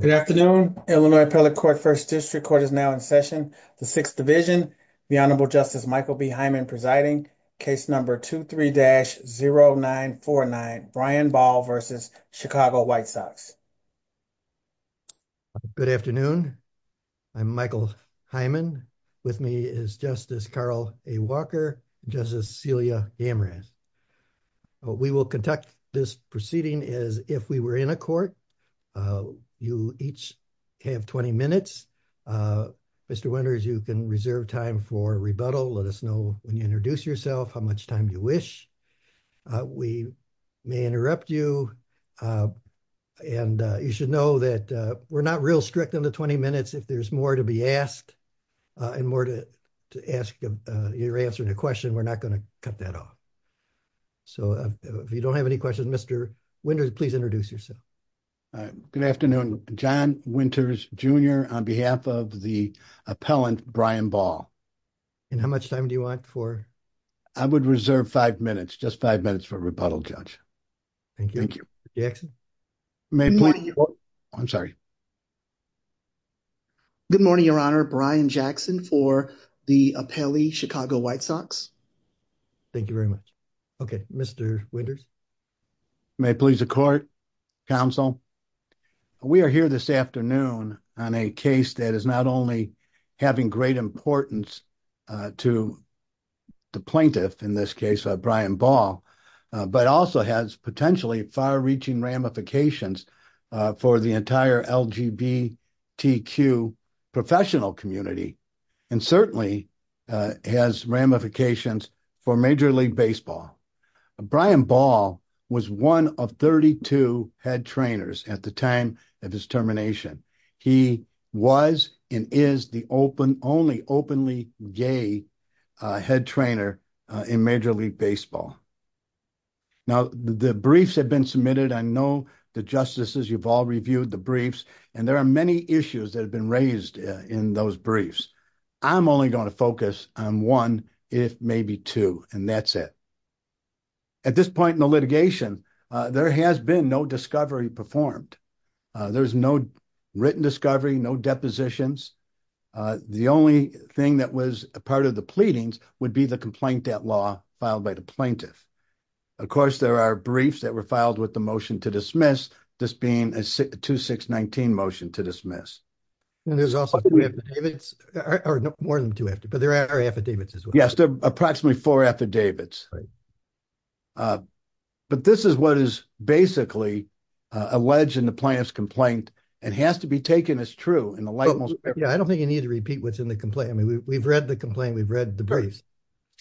Good afternoon. Illinois Appellate Court First District Court is now in session. The 6th Division, the Honorable Justice Michael B. Hyman presiding, case number 23-0949, Brian Ball v. Chicago White Sox. Good afternoon. I'm Michael Hyman. With me is Justice Carl A. Walker, Justice Celia Amras. We will conduct this proceeding as if we were in a court. You each have 20 minutes. Mr. Winters, you can reserve time for rebuttal. Let us know when you introduce yourself, how much time you wish. We may interrupt you. And you should know that we're not real strict in the 20 minutes. If there's more to be asked and more to ask your answer to the question, we're not going to cut that off. So if you don't have any questions, Mr. Winters, please introduce yourself. Good afternoon. John Winters, Jr. on behalf of the appellant, Brian Ball. And how much time do you want for? I would reserve five minutes, just five minutes for rebuttal, Judge. Thank you. Jackson. I'm sorry. Good morning, Your Honor. Brian Jackson for the appellee Chicago White Sox. Thank you very much. OK, Mr. Winters. May it please the court. Counsel, we are here this afternoon on a case that is not only having great importance to. The plaintiff, in this case, Brian Ball, but also has potentially far reaching ramifications for the entire LGBTQ professional community. And certainly has ramifications for Major League Baseball. Brian Ball was one of 32 head trainers at the time of his termination. He was and is the open only openly gay head trainer in Major League Baseball. Now, the briefs have been submitted. I know the justices, you've all reviewed the briefs. And there are many issues that have been raised in those briefs. I'm only going to focus on one, if maybe two. And that's it. At this point in the litigation, there has been no discovery performed. There's no written discovery, no depositions. The only thing that was a part of the pleadings would be the complaint that law filed by the plaintiff. Of course, there are briefs that were filed with the motion to dismiss this being a 2619 motion to dismiss. And there's also more than two, but there are affidavits. Yes. Approximately four affidavits. But this is what is basically a wedge in the plaintiff's complaint. It has to be taken as true in the light. Yeah, I don't think you need to repeat what's in the complaint. I mean, we've read the complaint. We've read the briefs.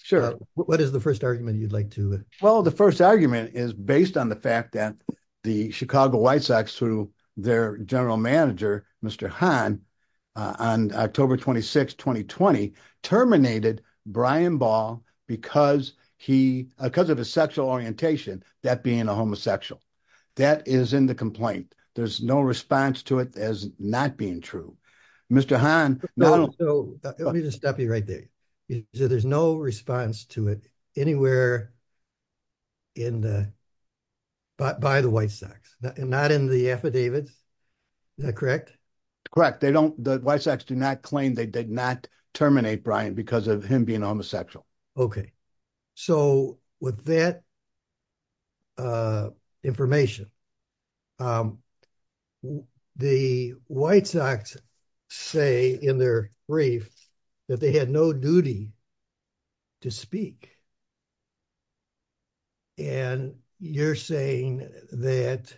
Sure. What is the first argument you'd like to follow? The first argument is based on the fact that the Chicago White Sox through their general manager, Mr. Han, on October 26, 2020, terminated Brian Ball because he because of his sexual orientation, that being a homosexual. That is in the complaint. There's no response to it as not being true. Mr. Han. So let me just stop you right there. So there's no response to it anywhere. In the. But by the White Sox, not in the affidavit, correct? Correct. They don't the White Sox do not claim they did not terminate Brian because of him being homosexual. OK, so with that. Information. The White Sox say in their brief that they had no duty. To speak. And you're saying that.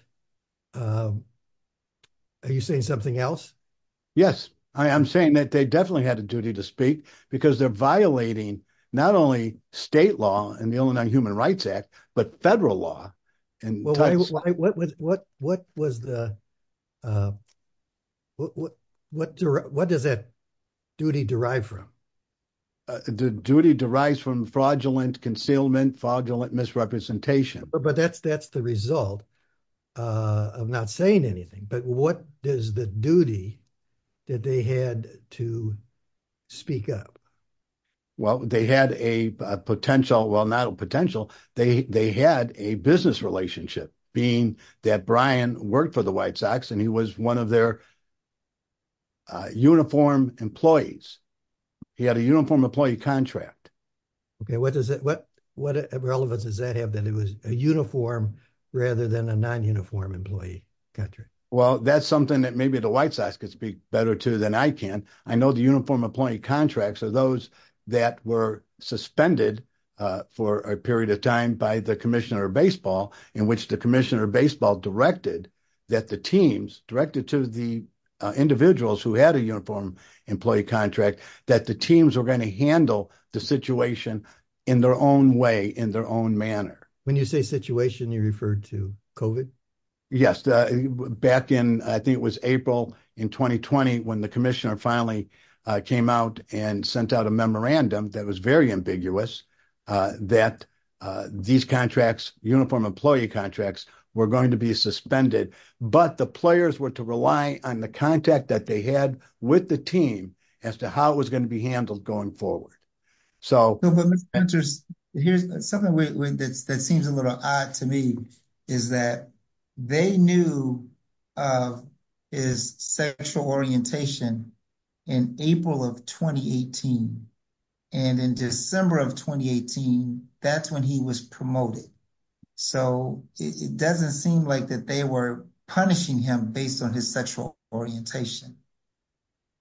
Are you saying something else? Yes, I am saying that they definitely had a duty to speak because they're violating not only state law and the Illinois Human Rights Act, but federal law. And what was the. What does that duty derive from? Duty derives from fraudulent concealment, fraudulent misrepresentation. But that's that's the result of not saying anything. But what is the duty that they had to speak up? Well, they had a potential, well, not a potential. They had a business relationship being that Brian worked for the White Sox and he was one of their. Uniform employees, he had a uniform employee contract. OK, what does it what what relevance does that have that it was a uniform rather than a non uniform employee country? Well, that's something that maybe the White Sox could speak better to than I can. I know the uniform employee contracts are those that were suspended for a period of time by the commissioner baseball in which the commissioner baseball directed that the teams directed to the individuals who had a uniform employee contract. That the teams are going to handle the situation in their own way, in their own manner. When you say situation, you referred to covid. Yes. Back in I think it was April in 2020 when the commissioner finally came out and sent out a memorandum that was very ambiguous that these contracts, uniform employee contracts were going to be suspended. But the players were to rely on the contact that they had with the team as to how it was going to be handled going forward. So here's something that seems a little odd to me is that they knew his sexual orientation in April of 2018. And in December of 2018, that's when he was promoted. So it doesn't seem like that they were punishing him based on his sexual orientation.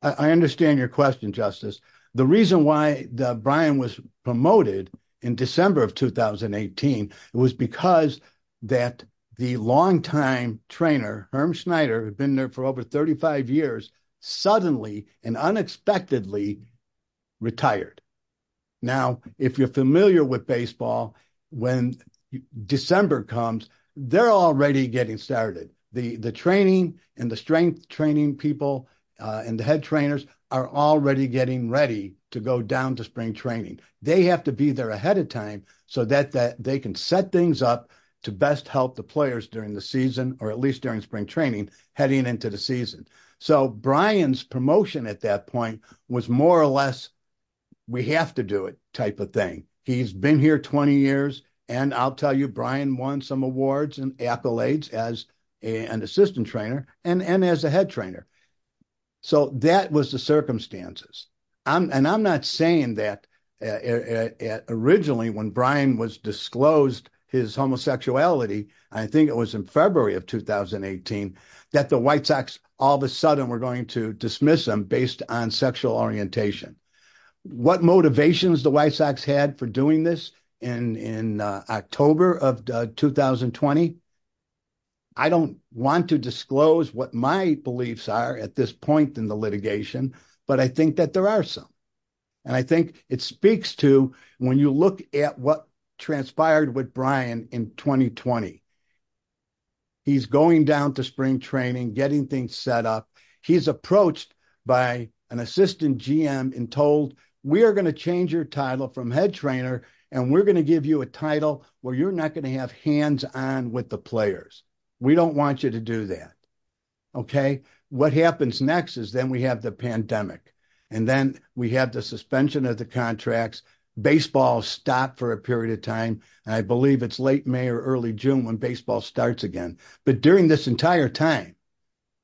I understand your question, Justice. The reason why Brian was promoted in December of 2018 was because that the longtime trainer, Herm Schneider, who had been there for over 35 years, suddenly and unexpectedly retired. Now, if you're familiar with baseball, when December comes, they're already getting started. The training and the strength training people and the head trainers are already getting ready to go down to spring training. They have to be there ahead of time so that they can set things up to best help the players during the season or at least during spring training heading into the season. So Brian's promotion at that point was more or less we have to do it type of thing. He's been here 20 years, and I'll tell you, Brian won some awards and accolades as an assistant trainer and as a head trainer. So that was the circumstances. And I'm not saying that originally when Brian was disclosed his homosexuality, I think it was in February of 2018, that the White Sox all of a sudden were going to dismiss him based on sexual orientation. What motivations the White Sox had for doing this in October of 2020, I don't want to disclose what my beliefs are at this point in the litigation, but I think that there are some. And I think it speaks to when you look at what transpired with Brian in 2020. He's going down to spring training, getting things set up. He's approached by an assistant GM and told, we are going to change your title from head trainer, and we're going to give you a title where you're not going to have hands on with the players. We don't want you to do that. Okay? What happens next is then we have the pandemic. And then we have the suspension of the contracts. Baseball stopped for a period of time. I believe it's late May or early June when baseball starts again. But during this entire time,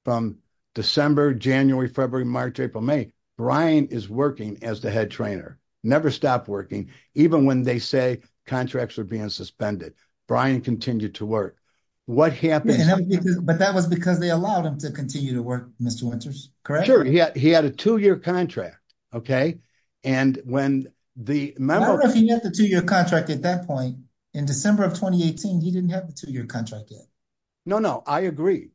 from December, January, February, March, April, May, Brian is working as the head trainer. Never stopped working, even when they say contracts are being suspended. Brian continued to work. But that was because they allowed him to continue to work, Mr. Winters, correct? Sure. He had a two-year contract. Okay? No, no. I agree.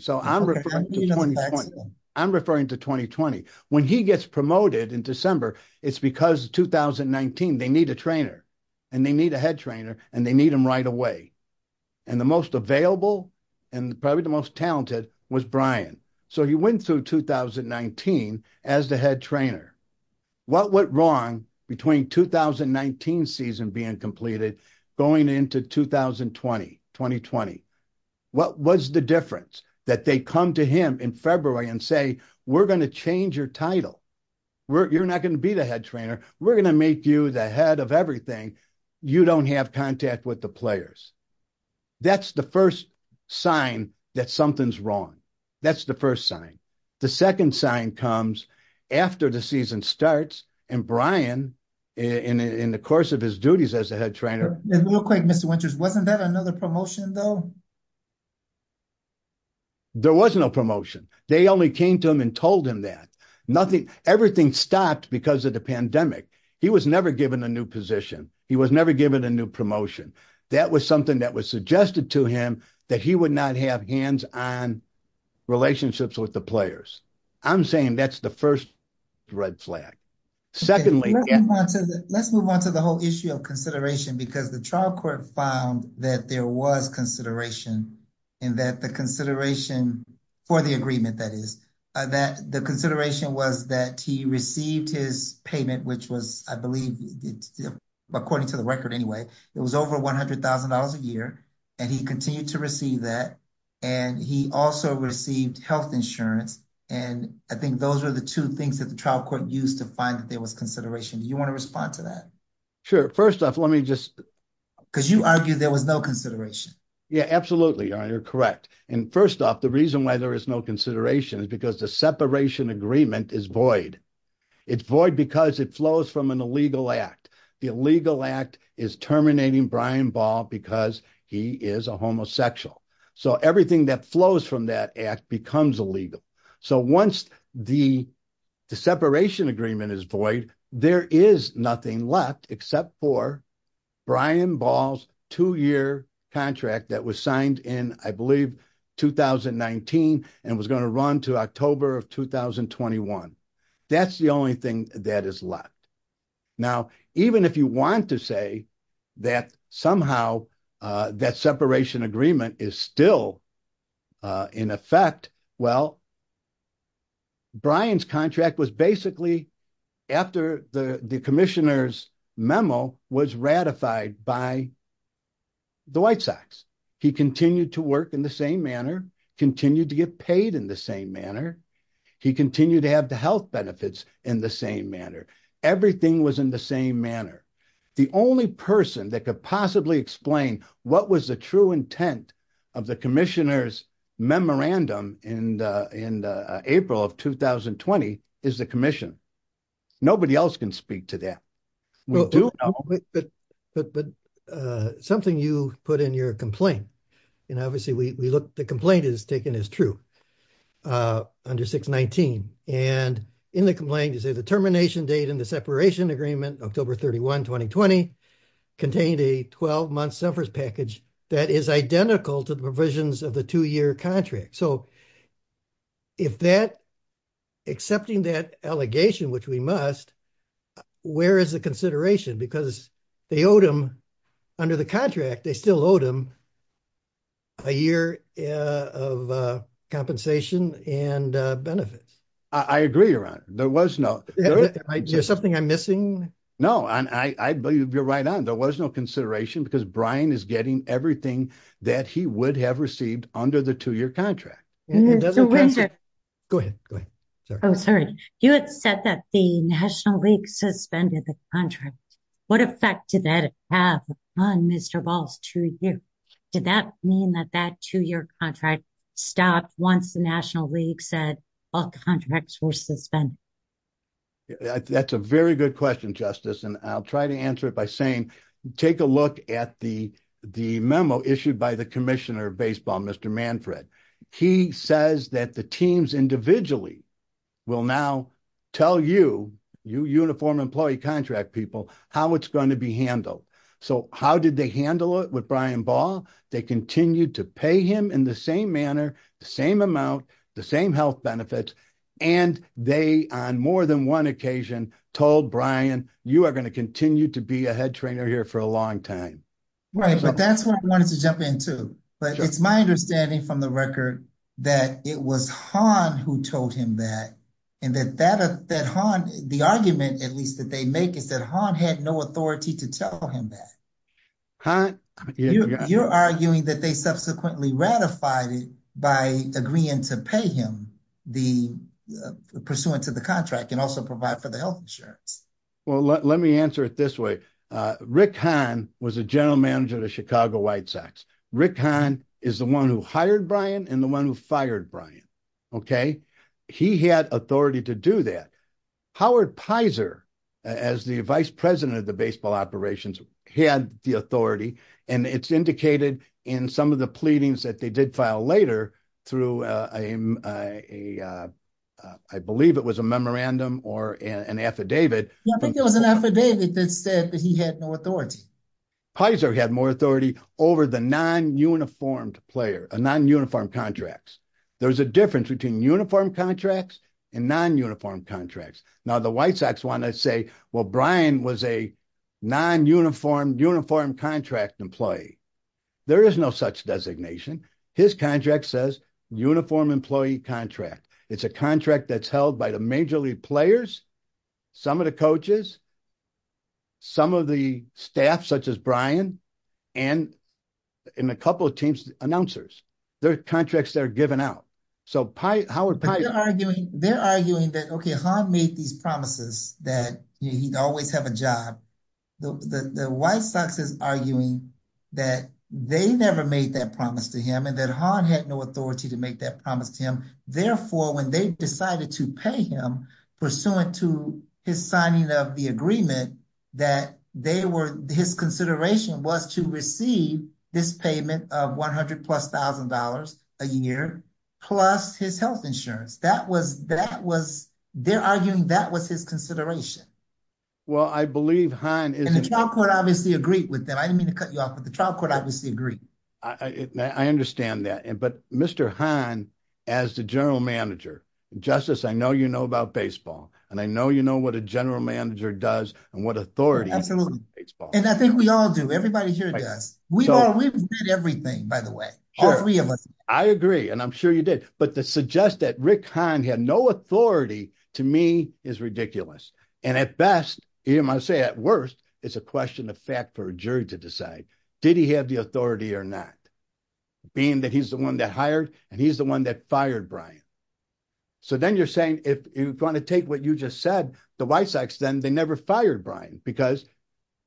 So I'm referring to 2020. I'm referring to 2020. When he gets promoted in December, it's because 2019, they need a trainer. And they need a head trainer, and they need him right away. And the most available and probably the most talented was Brian. So he went through 2019 as the head trainer. What went wrong between 2019 season being completed going into 2020? What was the difference that they come to him in February and say, we're going to change your title? You're not going to be the head trainer. We're going to make you the head of everything. You don't have contact with the players. That's the first sign that something's wrong. That's the first sign. The second sign comes after the season starts, and Brian, in the course of his duties as the head trainer. It looked like, Mr. Winters, wasn't that another promotion, though? There was no promotion. They only came to him and told him that. Everything stopped because of the pandemic. He was never given a new position. He was never given a new promotion. That was something that was suggested to him, that he would not have hands-on relationships with the players. I'm saying that's the first red flag. Let's move on to the whole issue of consideration, because the trial court found that there was consideration, and that the consideration for the agreement, that is, that the consideration was that he received his payment, which was, I believe, according to the record anyway, it was over $100,000 a year, and he continued to receive that, and he also received health insurance. And I think those are the two things that the trial court used to find that there was consideration. Do you want to respond to that? Sure. First off, let me just – Because you argued there was no consideration. Yeah, absolutely. You're correct. And first off, the reason why there is no consideration is because the separation agreement is void. It's void because it flows from an illegal act. The illegal act is terminating Brian Ball because he is a homosexual. So everything that flows from that act becomes illegal. So once the separation agreement is void, there is nothing left except for Brian Ball's two-year contract that was signed in, I believe, 2019 and was going to run to October of 2021. That's the only thing that is left. Now, even if you want to say that somehow that separation agreement is still in effect, well, Brian's contract was basically after the commissioner's memo was ratified by the White Sox. He continued to work in the same manner, continued to get paid in the same manner. He continued to have the health benefits in the same manner. Everything was in the same manner. The only person that could possibly explain what was the true intent of the commissioner's memorandum in April of 2020 is the commission. Nobody else can speak to that. But something you put in your complaint, and obviously the complaint is taken as true under 619. And in the complaint, you say the termination date in the separation agreement, October 31, 2020, contained a 12-month severance package that is identical to the provisions of the two-year contract. So accepting that allegation, which we must, where is the consideration? Because they owed him, under the contract, they still owed him a year of compensation and benefits. I agree, Ron. There was no. Is there something I'm missing? You're right on. There was no consideration because Brian is getting everything that he would have received under the two-year contract. Go ahead. Oh, sorry. You said that the National League suspended the contract. What effect did that have on Mr. Ball's two years? Did that mean that that two-year contract stopped once the National League said all contracts were suspended? That's a very good question, Justice, and I'll try to answer it by saying take a look at the memo issued by the Commissioner of Baseball, Mr. Manfred. He says that the teams individually will now tell you, you uniformed employee contract people, how it's going to be handled. So how did they handle it with Brian Ball? They continued to pay him in the same manner, the same amount, the same health benefits, and they, on more than one occasion, told Brian, you are going to continue to be a head trainer here for a long time. Right, but that's what I wanted to jump into. It's my understanding from the record that it was Han who told him that, and that Han, the argument, at least, that they make is that Han had no authority to tell him that. You're arguing that they subsequently ratified it by agreeing to pay him the pursuance of the contract and also provide for the health insurance. Well, let me answer it this way. Rick Han was a general manager of the Chicago White Sox. Rick Han is the one who hired Brian and the one who fired Brian, okay? He had authority to do that. Howard Pizer, as the vice president of the baseball operations, he had the authority, and it's indicated in some of the pleadings that they did file later through a, I believe it was a memorandum or an affidavit. I think it was an affidavit that said that he had no authority. Pizer had more authority over the non-uniformed player, non-uniformed contracts. There's a difference between uniformed contracts and non-uniformed contracts. Now, the White Sox wanted to say, well, Brian was a non-uniformed, uniformed contract employee. There is no such designation. His contract says uniformed employee contract. It's a contract that's held by the major league players, some of the coaches, some of the staff, such as Brian, and a couple of team's announcers. They're contracts that are given out. So, Howard Pizer – They're arguing that, okay, Han made these promises that he'd always have a job. The White Sox is arguing that they never made that promise to him and that Han had no authority to make that promise to him. Therefore, when they decided to pay him pursuant to his signing of the agreement, that they were – his consideration was to receive this payment of $100,000 plus a year plus his health insurance. That was – they're arguing that was his consideration. Well, I believe Han is – And the trial court obviously agreed with that. I didn't mean to cut you off, but the trial court obviously agreed. I understand that. But Mr. Han, as the general manager – Justice, I know you know about baseball, and I know you know what a general manager does and what authority – Absolutely. And I think we all do. Everybody here does. We all really did everything, by the way. Sure. All three of us. I agree, and I'm sure you did. But to suggest that Rick Han had no authority, to me, is ridiculous. And at best, I say at worst, it's a question of fact for a jury to decide. Did he have the authority or not? Being that he's the one that hired and he's the one that fired Brian. So then you're saying if you're going to take what you just said, the White Sox then, they never fired Brian because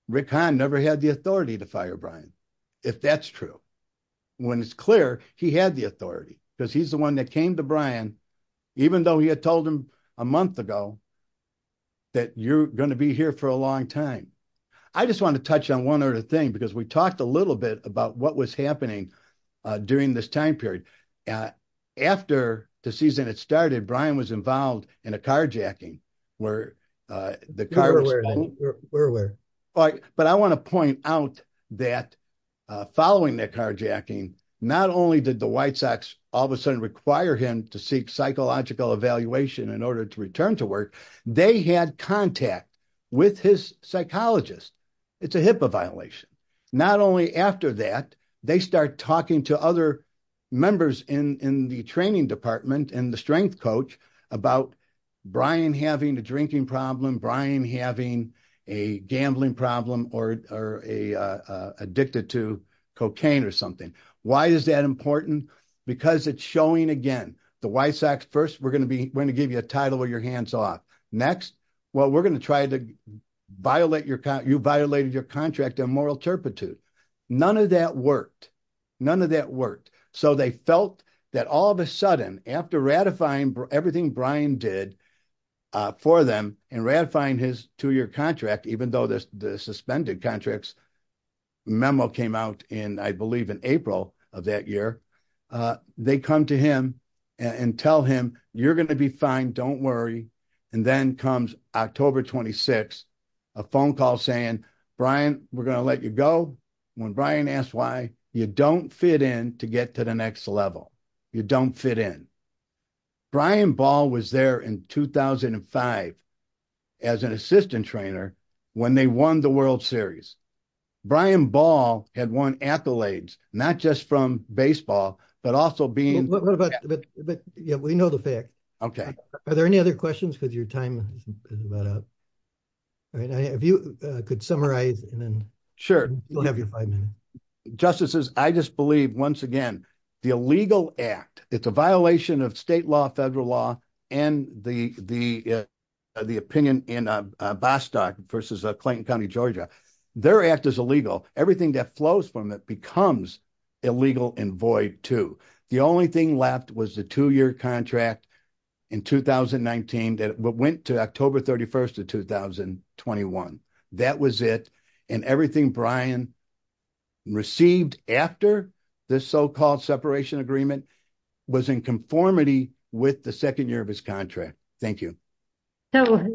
Rick Han never had the authority to fire Brian, if that's true. When it's clear, he had the authority because he's the one that came to Brian, even though he had told him a month ago that you're going to be here for a long time. I just want to touch on one other thing because we talked a little bit about what was happening during this time period. After the season had started, Brian was involved in a carjacking where the car was – We're aware. But I want to point out that following that carjacking, not only did the White Sox all of a sudden require him to seek psychological evaluation in order to return to work, they had contact with his psychologist. It's a HIPAA violation. Not only after that, they start talking to other members in the training department and the strength coach about Brian having a drinking problem, Brian having a gambling problem, or addicted to cocaine or something. Why is that important? Because it's showing, again, the White Sox, first, we're going to give you a title with your hands off. Next, well, we're going to try to violate your – you violated your contract on moral turpitude. None of that worked. None of that worked. So they felt that all of a sudden, after ratifying everything Brian did for them and ratifying his two-year contract, even though the suspended contracts memo came out in, I believe, in April of that year, they come to him and tell him, you're going to be fine, don't worry. And then comes October 26th, a phone call saying, Brian, we're going to let you go. When Brian asked why, you don't fit in to get to the next level. You don't fit in. Brian Ball was there in 2005 as an assistant trainer when they won the World Series. Brian Ball had won accolades, not just from baseball, but also being – What about – yeah, we know the fact. Okay. Are there any other questions? Because your time is about up. If you could summarize and then – Sure. You'll have your five minutes. Justices, I just believe, once again, the illegal act, it's a violation of state law, federal law, and the opinion in Bostock versus Clayton County, Georgia. Their act is illegal. Everything that flows from it becomes illegal and void, too. The only thing left was the two-year contract in 2019 that went to October 31st of 2021. That was it. And everything Brian received after this so-called separation agreement was in conformity with the second year of his contract. Thank you. Sorry.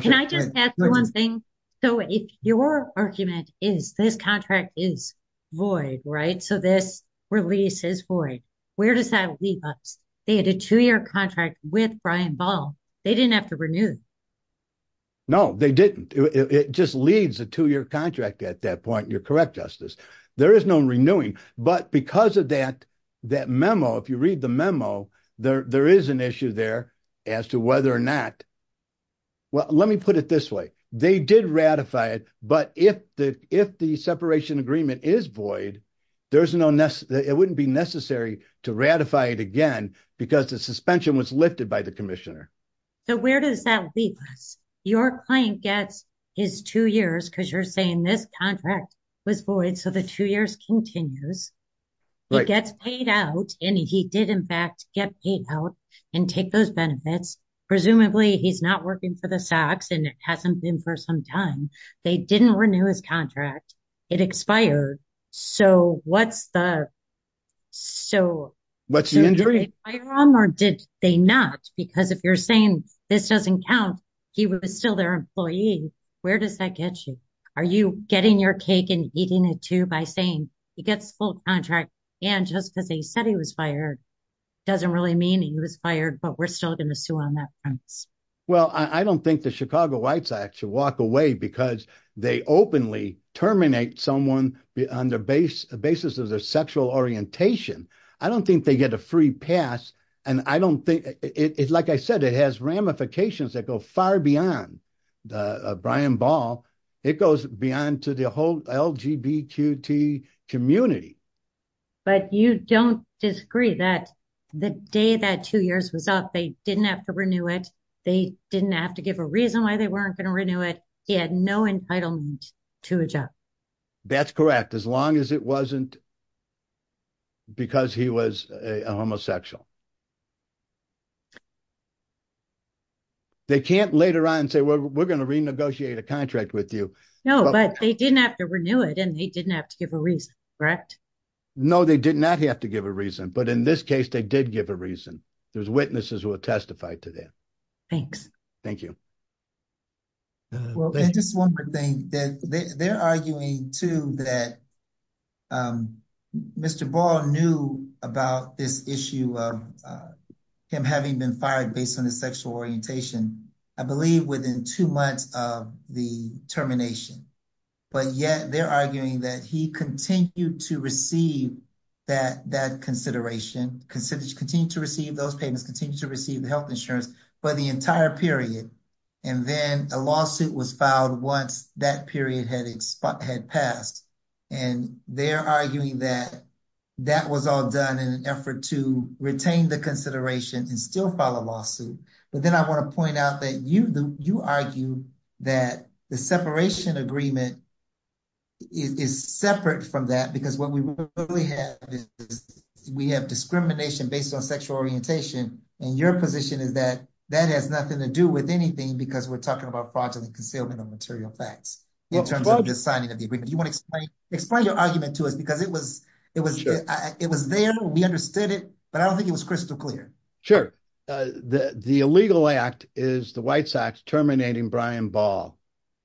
Can I just add one thing? So your argument is this contract is void, right? So this release is void. Where does that leave us? They had a two-year contract with Brian Ball. They didn't have to renew it. No, they didn't. It just leaves a two-year contract at that point. You're correct, Justice. There is no renewing. But because of that memo, if you read the memo, there is an issue there as to whether or not – Well, let me put it this way. They did ratify it. But if the separation agreement is void, it wouldn't be necessary to ratify it again because the suspension was lifted by the commissioner. So where does that leave us? Your client gets his two years because you're saying this contract was void so the two years continues. It gets paid out. And he did, in fact, get paid out and take those benefits. Presumably he's not working for the SACs and it hasn't been for some time. They didn't renew his contract. It expired. So what's the – What's the injury? Did they fire him or did they not? Because if you're saying this doesn't count, he was still their employee. Where does that get you? Are you getting your cake and eating it too by saying he gets full contract and just because they said he was fired doesn't really mean he was fired, but we're still going to sue on that front. Well, I don't think the Chicago Whites Act should walk away because they openly terminate someone on the basis of their sexual orientation. I don't think they get a free pass. And I don't think – like I said, it has ramifications that go far beyond Brian Ball. It goes beyond to the whole LGBTQ community. But you don't disagree that the day that two years was up, they didn't have to renew it. They didn't have to give a reason why they weren't going to renew it. He had no entitlement to a job. That's correct, as long as it wasn't because he was a homosexual. They can't later on say, well, we're going to renegotiate a contract with you. No, but they didn't have to renew it and they didn't have to give a reason, correct? No, they did not have to give a reason. But in this case, they did give a reason. There's witnesses who have testified to that. Thank you. Well, and just one more thing. They're arguing too that Mr. Ball knew about this issue of him having been fired based on his sexual orientation. I believe within two months of the termination. But yet, they're arguing that he continued to receive that consideration, continued to receive those payments, continued to receive health insurance for the entire period. And then a lawsuit was filed once that period had passed. And they're arguing that that was all done in an effort to retain the consideration and still file a lawsuit. But then I want to point out that you argue that the separation agreement is separate from that. Because what we have is we have discrimination based on sexual orientation. And your position is that that has nothing to do with anything because we're talking about fraudulent concealment of material facts. You want to explain your argument to us? Because it was there, we understood it, but I don't think it was crystal clear. Sure. The illegal act is the White Sox terminating Brian Ball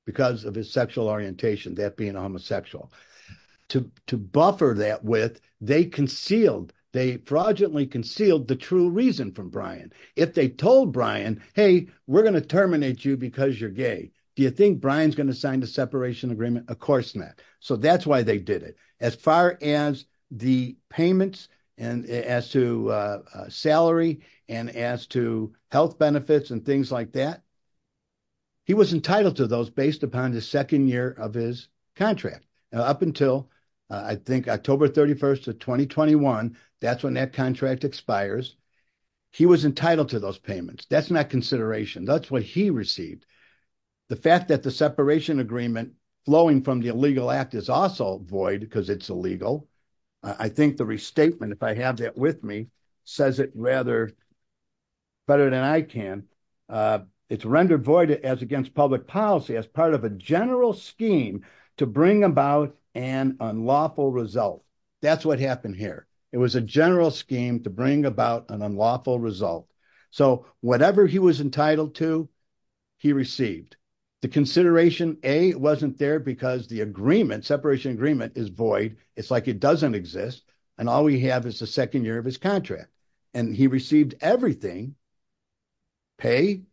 because of his sexual orientation, that being homosexual. To buffer that with, they concealed, they fraudulently concealed the true reason for Brian. If they told Brian, hey, we're going to terminate you because you're gay. Do you think Brian's going to sign the separation agreement? Of course not. So that's why they did it. As far as the payments and as to salary and as to health benefits and things like that, he was entitled to those based upon the second year of his contract. Up until I think October 31st of 2021, that's when that contract expires. He was entitled to those payments. That's not consideration. That's what he received. The fact that the separation agreement flowing from the illegal act is also void because it's illegal. I think the restatement, if I have that with me, says it rather better than I can. It's rendered void as against public policy as part of a general scheme to bring about an unlawful result. That's what happened here. It was a general scheme to bring about an unlawful result. So whatever he was entitled to, he received. The consideration, A, wasn't there because the agreement, separation agreement, is void. It's like it doesn't exist. And all we have is the second year of his contract. And he received everything, pay,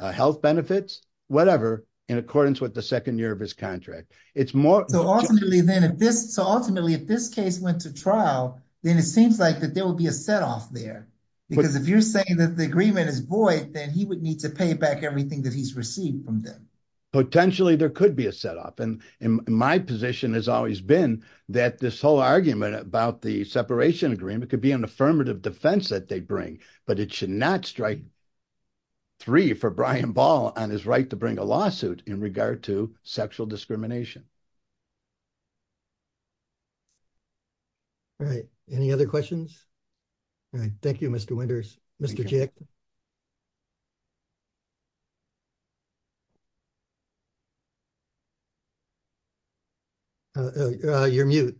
health benefits, whatever, in accordance with the second year of his contract. So ultimately, if this case went to trial, then it seems like there will be a setoff there. Because if you're saying that the agreement is void, then he would need to pay back everything that he's received from them. Potentially there could be a setoff. And my position has always been that this whole argument about the separation agreement could be an affirmative defense that they bring. But it should not strike three for Brian Ball on his right to bring a lawsuit in regard to sexual discrimination. All right. Any other questions? All right. Thank you, Mr. Winters. Mr. Chick? You're mute.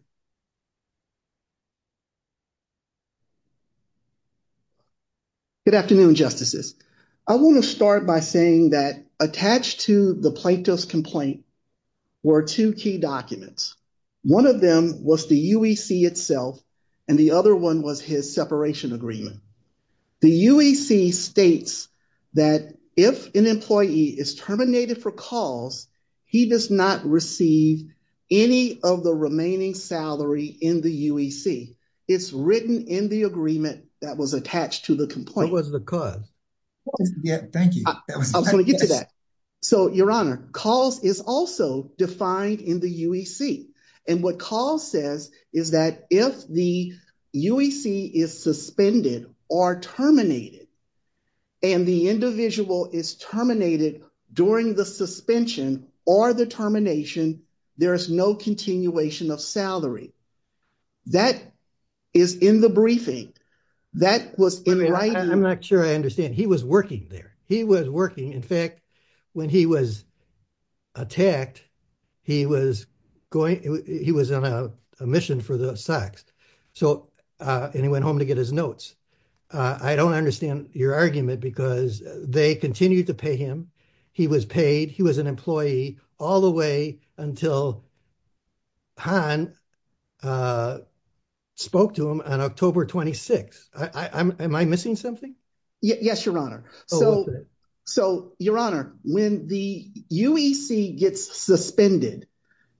Good afternoon, Justices. I want to start by saying that attached to the plaintiff's complaint were two key documents. One of them was the UEC itself, and the other one was his separation agreement. The UEC states that if an employee is terminated for cause, he does not receive any of the remaining salary in the UEC. It's written in the agreement that was attached to the complaint. What was the cause? Thank you. I'm going to give you that. So, Your Honor, cause is also defined in the UEC. And what cause says is that if the UEC is suspended or terminated, and the individual is terminated during the suspension or the termination, there is no continuation of salary. That is in the briefing. I'm not sure I understand. He was working there. He was working. In fact, when he was attacked, he was on a mission for the stocks. And he went home to get his notes. I don't understand your argument, because they continued to pay him. He was paid. He was an employee all the way until Han spoke to him on October 26th. Am I missing something? Yes, Your Honor. So, Your Honor, when the UEC gets suspended,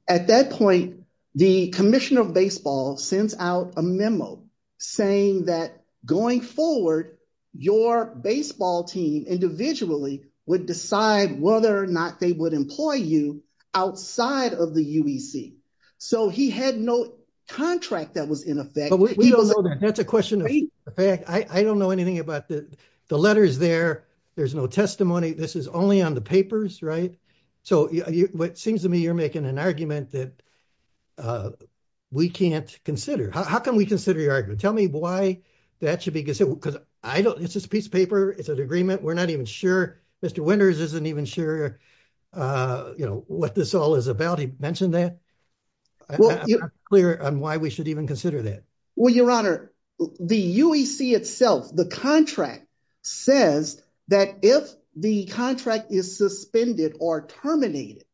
at that point, the Commission of Baseball sends out a memo saying that going forward, your baseball team individually would decide whether or not they would employ you outside of the UEC. So, he had no contract that was in effect. But we don't know that. That's a question of fact. I don't know anything about the letters there. There's no testimony. This is only on the papers, right? So, it seems to me you're making an argument that we can't consider. How can we consider your argument? Tell me why that should be considered, because it's just a piece of paper. It's an agreement. We're not even sure. Mr. Winters isn't even sure, you know, what this all is about. He mentioned that. I'm not clear on why we should even consider that. Well, Your Honor, the UEC itself, the contract, says that if the contract is suspended or terminated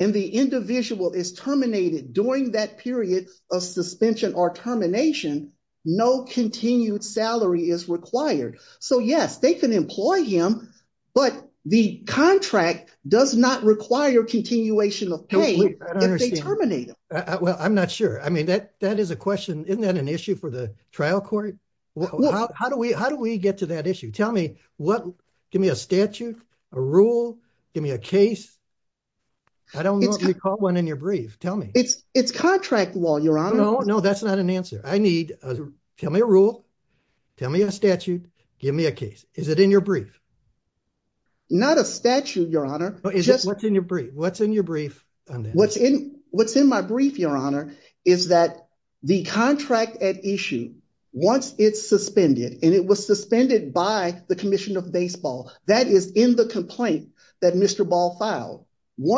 and the individual is terminated during that period of suspension or termination, no continued salary is required. So, yes, they can employ him, but the contract does not require continuation of pay if they terminate him. Well, I'm not sure. I mean, that is a question. Isn't that an issue for the trial court? How do we get to that issue? Tell me. Give me a statute, a rule, give me a case. I don't know if you caught one in your brief. Tell me. It's contract law, Your Honor. No, that's not an answer. Tell me a rule. Tell me a statute. Give me a case. Is it in your brief? Not a statute, Your Honor. What's in your brief? What's in your brief? What's in my brief, Your Honor, is that the contract at issue, once it's suspended, and it was suspended by the Commission of Baseball, that is in the complaint that Mr. Ball filed.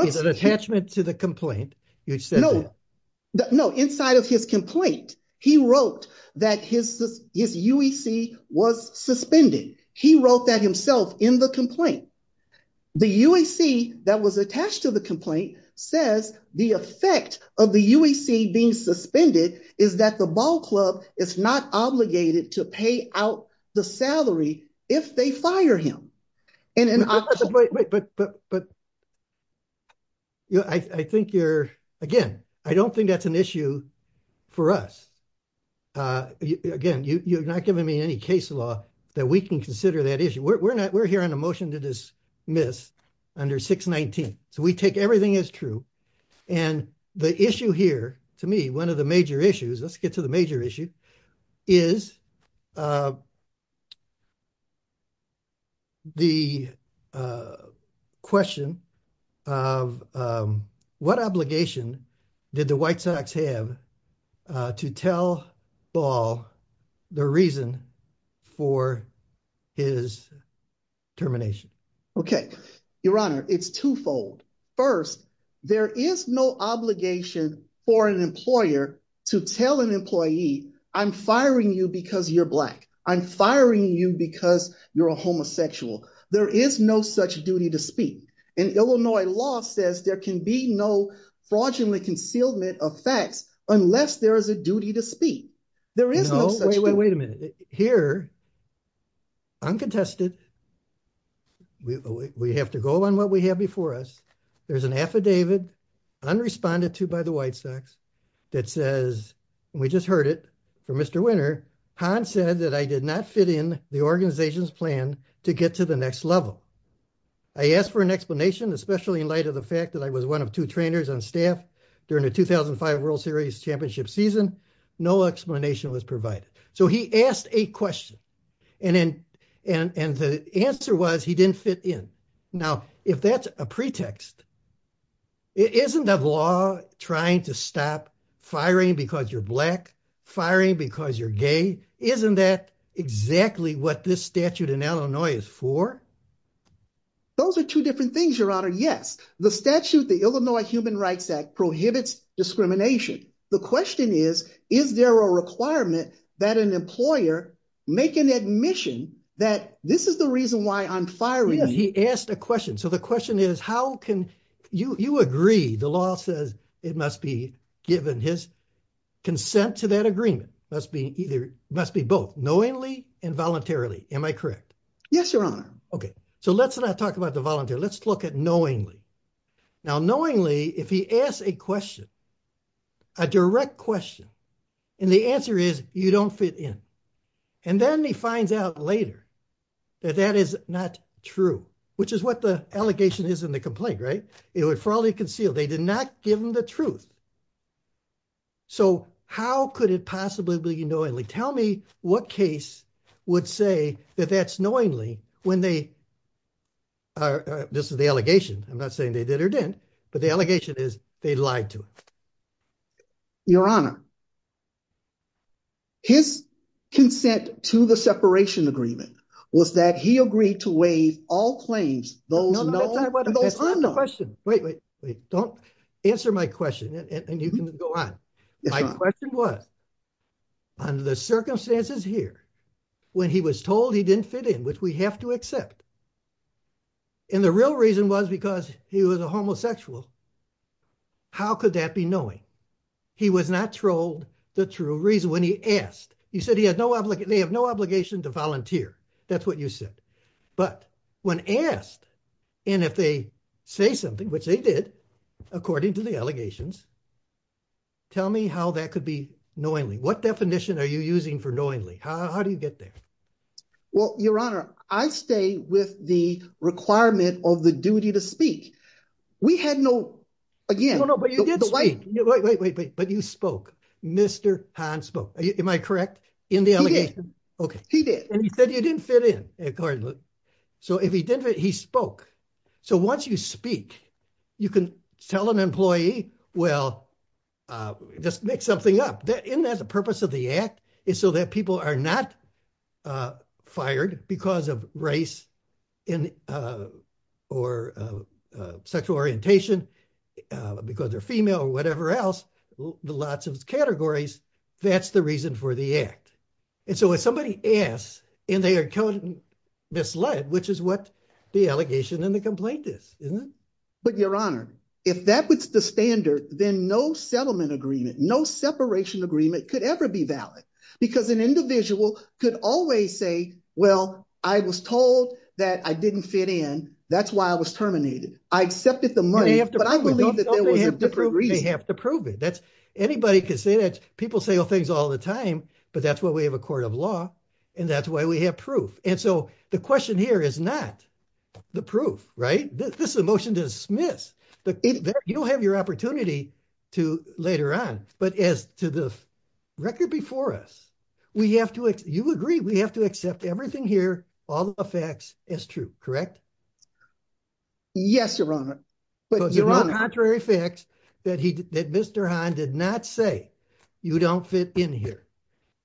Is it an attachment to the complaint? No, inside of his complaint, he wrote that his UEC was suspended. He wrote that himself in the complaint. The UEC that was attached to the complaint says the effect of the UEC being suspended is that the ball club is not obligated to pay out the salary if they fire him. But I think you're, again, I don't think that's an issue for us. Again, you're not giving me any case law that we can consider that issue. We're here on a motion to dismiss under 619. So we take everything as true. And the issue here, to me, one of the major issues, let's get to the major issue, is the question of what obligation did the White Sox have to tell Ball the reason for his termination? Okay. Your Honor, it's twofold. First, there is no obligation for an employer to tell an employee, I'm firing you because you're Black. I'm firing you because you're a homosexual. There is no such duty to speak. And Illinois law says there can be no fraudulent concealment of fact unless there is a duty to speak. There is no such thing. No, wait a minute. Here, I'm contested. We have to go on what we have before us. There's an affidavit, unresponded to by the White Sox, that says, and we just heard it from Mr. Winter, Han said that I did not fit in the organization's plan to get to the next level. I asked for an explanation, especially in light of the fact that I was one of two trainers on staff during the 2005 World Series championship season. No explanation was provided. So he asked a question, and the answer was he didn't fit in. Now, if that's a pretext, isn't the law trying to stop firing because you're Black, firing because you're gay, isn't that exactly what this statute in Illinois is for? Those are two different things, Your Honor, yes. The statute, the Illinois Human Rights Act, prohibits discrimination. The question is, is there a requirement that an employer make an admission that this is the reason why I'm firing? He asked a question. So the question is, how can you agree, the law says it must be given his consent to that agreement. It must be both, knowingly and voluntarily. Am I correct? Yes, Your Honor. Okay. So let's not talk about the volunteer. Let's look at knowingly. Now, knowingly, if he asks a question, a direct question, and the answer is you don't fit in, and then he finds out later that that is not true, which is what the allegation is in the complaint, right? It would fall to conceal. They did not give him the truth. So how could it possibly be knowingly? Tell me what case would say that that's knowingly when they, this is the allegation, I'm not saying they did or didn't, but the allegation is they lied to him. Your Honor, his consent to the separation agreement was that he agreed to waive all claims. That's not the question. Wait, wait, wait. Don't answer my question, and you can go on. My question was, under the circumstances here, when he was told he didn't fit in, which we have to accept, and the real reason was because he was a homosexual, how could that be knowing? He was not told the true reason when he asked. He said they have no obligation to volunteer. That's what you said. But when asked, and if they say something, which they did, according to the allegations, tell me how that could be knowingly. What definition are you using for knowingly? How do you get there? Well, Your Honor, I stay with the requirement of the duty to speak. We had no, again. No, no, but you did speak. Wait, wait, wait, but you spoke. Mr. Hahn spoke. Am I correct in the allegation? He did. Okay. So if he didn't, he spoke. So once you speak, you can tell an employee, well, just mix something up. And that's the purpose of the act, is so that people are not fired because of race or sexual orientation, because they're female or whatever else, lots of categories. That's the reason for the act. And so when somebody asks, and they are misled, which is what the allegation and the complaint is, isn't it? But, Your Honor, if that was the standard, then no settlement agreement, no separation agreement could ever be valid. Because an individual could always say, well, I was told that I didn't fit in. That's why I was terminated. I accepted the money, but I believe that there was a different reason. They have to prove it. Anybody can say that. People say those things all the time, but that's why we have a court of law, and that's why we have proof. And so the question here is not the proof, right? This is a motion to dismiss. You'll have your opportunity to later on. But as to the record before us, you agree we have to accept everything here, all the facts as true, correct? Yes, Your Honor. Your Honor, contrary facts that Mr. Hahn did not say, you don't fit in here.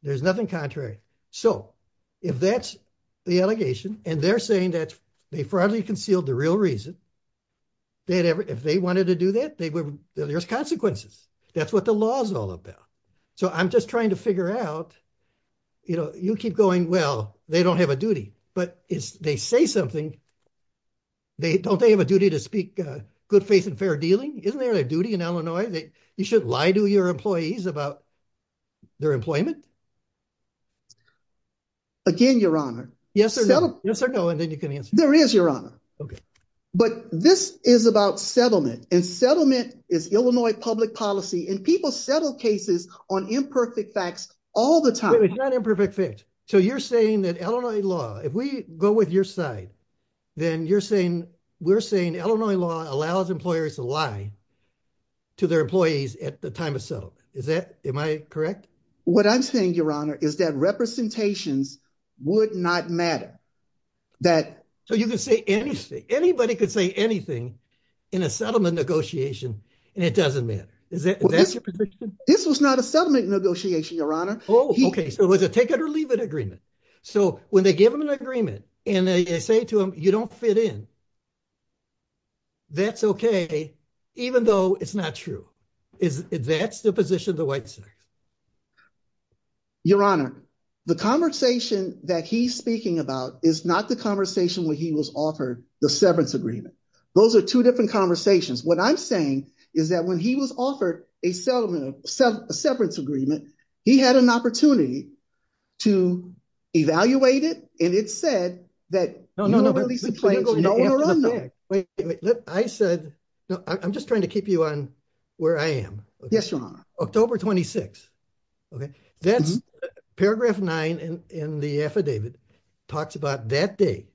There's nothing contrary. So if that's the allegation, and they're saying that they broadly concealed the real reason, if they wanted to do that, there's consequences. That's what the law is all about. So I'm just trying to figure out, you know, you keep going, well, they don't have a duty. But if they say something, don't they have a duty to speak good faith and fair dealing? Isn't that a duty in Illinois? You shouldn't lie to your employees about their employment. Again, Your Honor. Yes or no? Yes or no, and then you can answer. There is, Your Honor. Okay. But this is about settlement, and settlement is Illinois public policy, and people settle cases on imperfect facts all the time. It's not imperfect facts. So you're saying that Illinois law, if we go with your side, then you're saying, we're saying Illinois law allows employers to lie to their employees at the time of settlement. Is that, am I correct? What I'm saying, Your Honor, is that representation would not matter. So you could say anything, anybody could say anything in a settlement negotiation, and it doesn't matter. Is that your position? This was not a settlement negotiation, Your Honor. Oh, okay, so it was a take it or leave it agreement. So when they give them an agreement and they say to them, you don't fit in, that's okay, even though it's not true. Is that the position of the White House? Your Honor, the conversation that he's speaking about is not the conversation where he was offered the severance agreement. Those are two different conversations. What I'm saying is that when he was offered a severance agreement, he had an opportunity to evaluate it, and it said that he would release the plaintiff. I'm just trying to keep you on where I am. Yes, Your Honor. October 26th. Paragraph 9 in the affidavit talks about that date,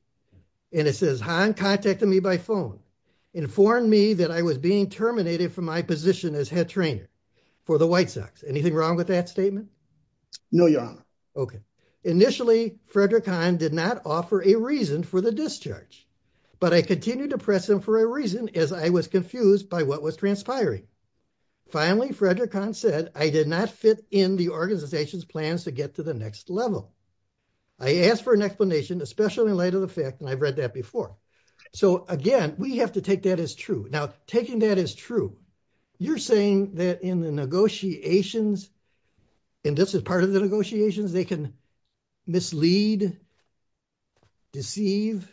and it says, Han contacted me by phone, informed me that I was being terminated from my position as head trainer for the White Sox. Anything wrong with that statement? No, Your Honor. Okay. Initially, Frederick Han did not offer a reason for the discharge, but I continued to press him for a reason as I was confused by what was transpiring. Finally, Frederick Han said I did not fit in the organization's plans to get to the next level. I asked for an explanation, especially in light of the fact, and I've read that before. So, again, we have to take that as true. Now, taking that as true, you're saying that in the negotiations, and this is part of the negotiations, they can mislead, deceive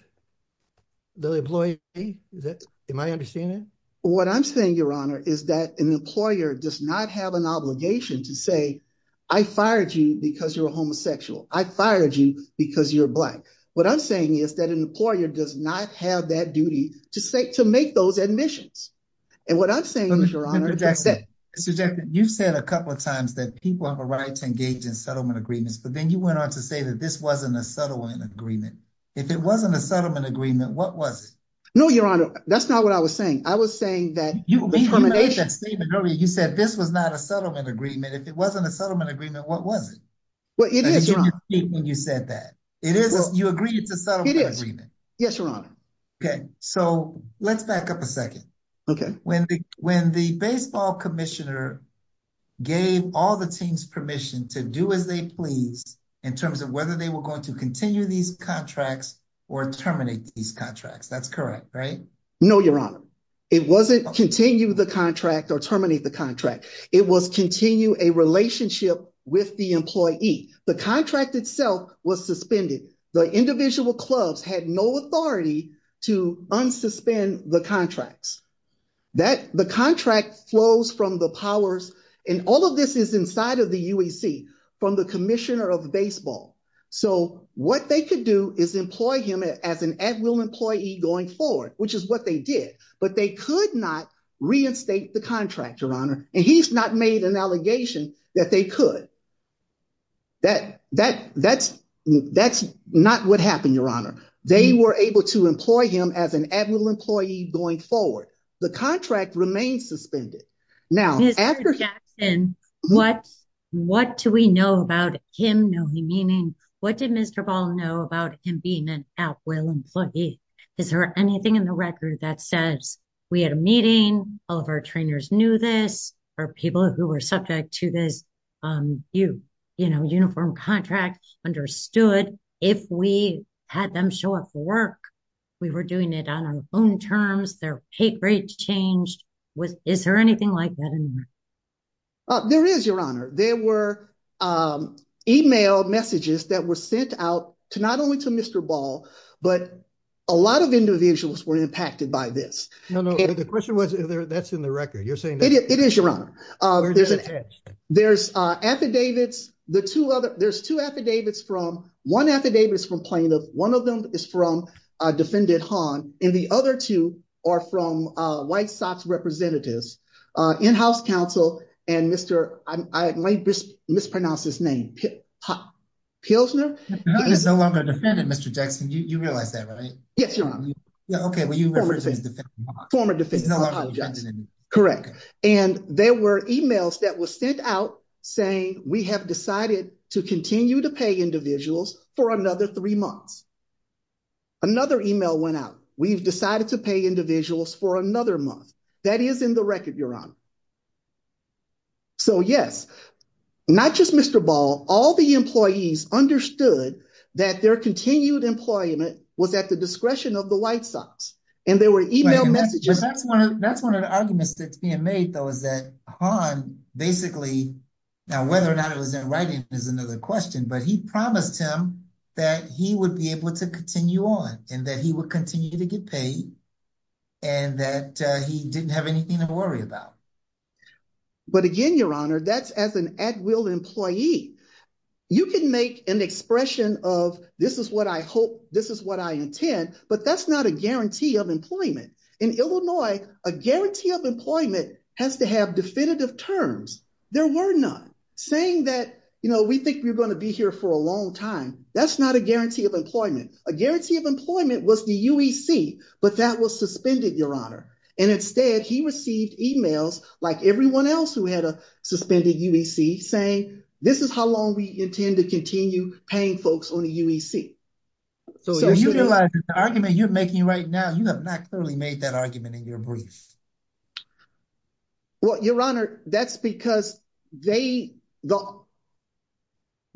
the employee? Am I understanding that? What I'm saying, Your Honor, is that an employer does not have an obligation to say, I fired you because you're a homosexual. I fired you because you're black. What I'm saying is that an employer does not have that duty to make those admissions. And what I'm saying, Mr. Honor, is that— Mr. Jackson, you said a couple of times that people have a right to engage in settlement agreements, but then you went on to say that this wasn't a settlement agreement. If it wasn't a settlement agreement, what was it? No, Your Honor, that's not what I was saying. I was saying that— You made that statement earlier. You said this was not a settlement agreement. If it wasn't a settlement agreement, what was it? Well, it is, Your Honor. And you deceived me when you said that. You agreed to a settlement agreement. It is. Yes, Your Honor. Okay, so let's back up a second. Okay. When the baseball commissioner gave all the teams permission to do as they pleased in terms of whether they were going to continue these contracts or terminate these contracts, that's correct, right? No, Your Honor. It wasn't continue the contract or terminate the contract. It was continue a relationship with the employee. The contract itself was suspended. The individual clubs had no authority to unsuspend the contracts. The contract flows from the powers—and all of this is inside of the UAC—from the commissioner of baseball. So what they could do is employ him as an admiral employee going forward, which is what they did. But they could not reinstate the contract, Your Honor. And he's not made an allegation that they could. That's not what happened, Your Honor. They were able to employ him as an admiral employee going forward. The contract remained suspended. Mr. Jackson, what do we know about him? What did Mr. Ball know about him being an admiral employee? Is there anything in the record that says we had a meeting, all of our trainers knew this, our people who were subject to this uniform contract understood? If we had them show up for work, we were doing it on our own terms, their papers changed. Is there anything like that? There is, Your Honor. There were e-mail messages that were sent out to not only to Mr. Ball, but a lot of individuals were impacted by this. No, no. The question was if that's in the record. You're saying— It is, Your Honor. There's affidavits. There's two affidavits from—one affidavit is from plaintiffs, one of them is from Defendant Hahn, and the other two are from White Sox representatives, in-house counsel, and Mr.—I might mispronounce his name—Pilsner? He's no longer a defendant, Mr. Jackson. You realize that, right? Yes, Your Honor. Okay, but you represent Defendant Hahn. Former defendant. He's no longer a defendant. Correct. And there were e-mails that were sent out saying, we have decided to continue to pay individuals for another three months. Another e-mail went out. We've decided to pay individuals for another month. That is in the record, Your Honor. So, yes, not just Mr. Ball, all the employees understood that their continued employment was at the discretion of the White Sox, and there were e-mail messages— That's one of the arguments that's being made, though, is that Hahn basically—now, whether or not it was in writing is another question, but he promised him that he would be able to continue on, and that he would continue to get paid, and that he didn't have anything to worry about. But again, Your Honor, that's as an at-will employee. You can make an expression of, this is what I hope, this is what I intend, but that's not a guarantee of employment. In Illinois, a guarantee of employment has to have definitive terms. There were none. Saying that, you know, we think we're going to be here for a long time, that's not a guarantee of employment. A guarantee of employment was the UEC, but that was suspended, Your Honor. And instead, he received e-mails, like everyone else who had a suspended UEC, saying, this is how long we intend to continue paying folks on the UEC. So, utilizing the argument you're making right now, you have not clearly made that argument in your brief. Well, Your Honor, that's because the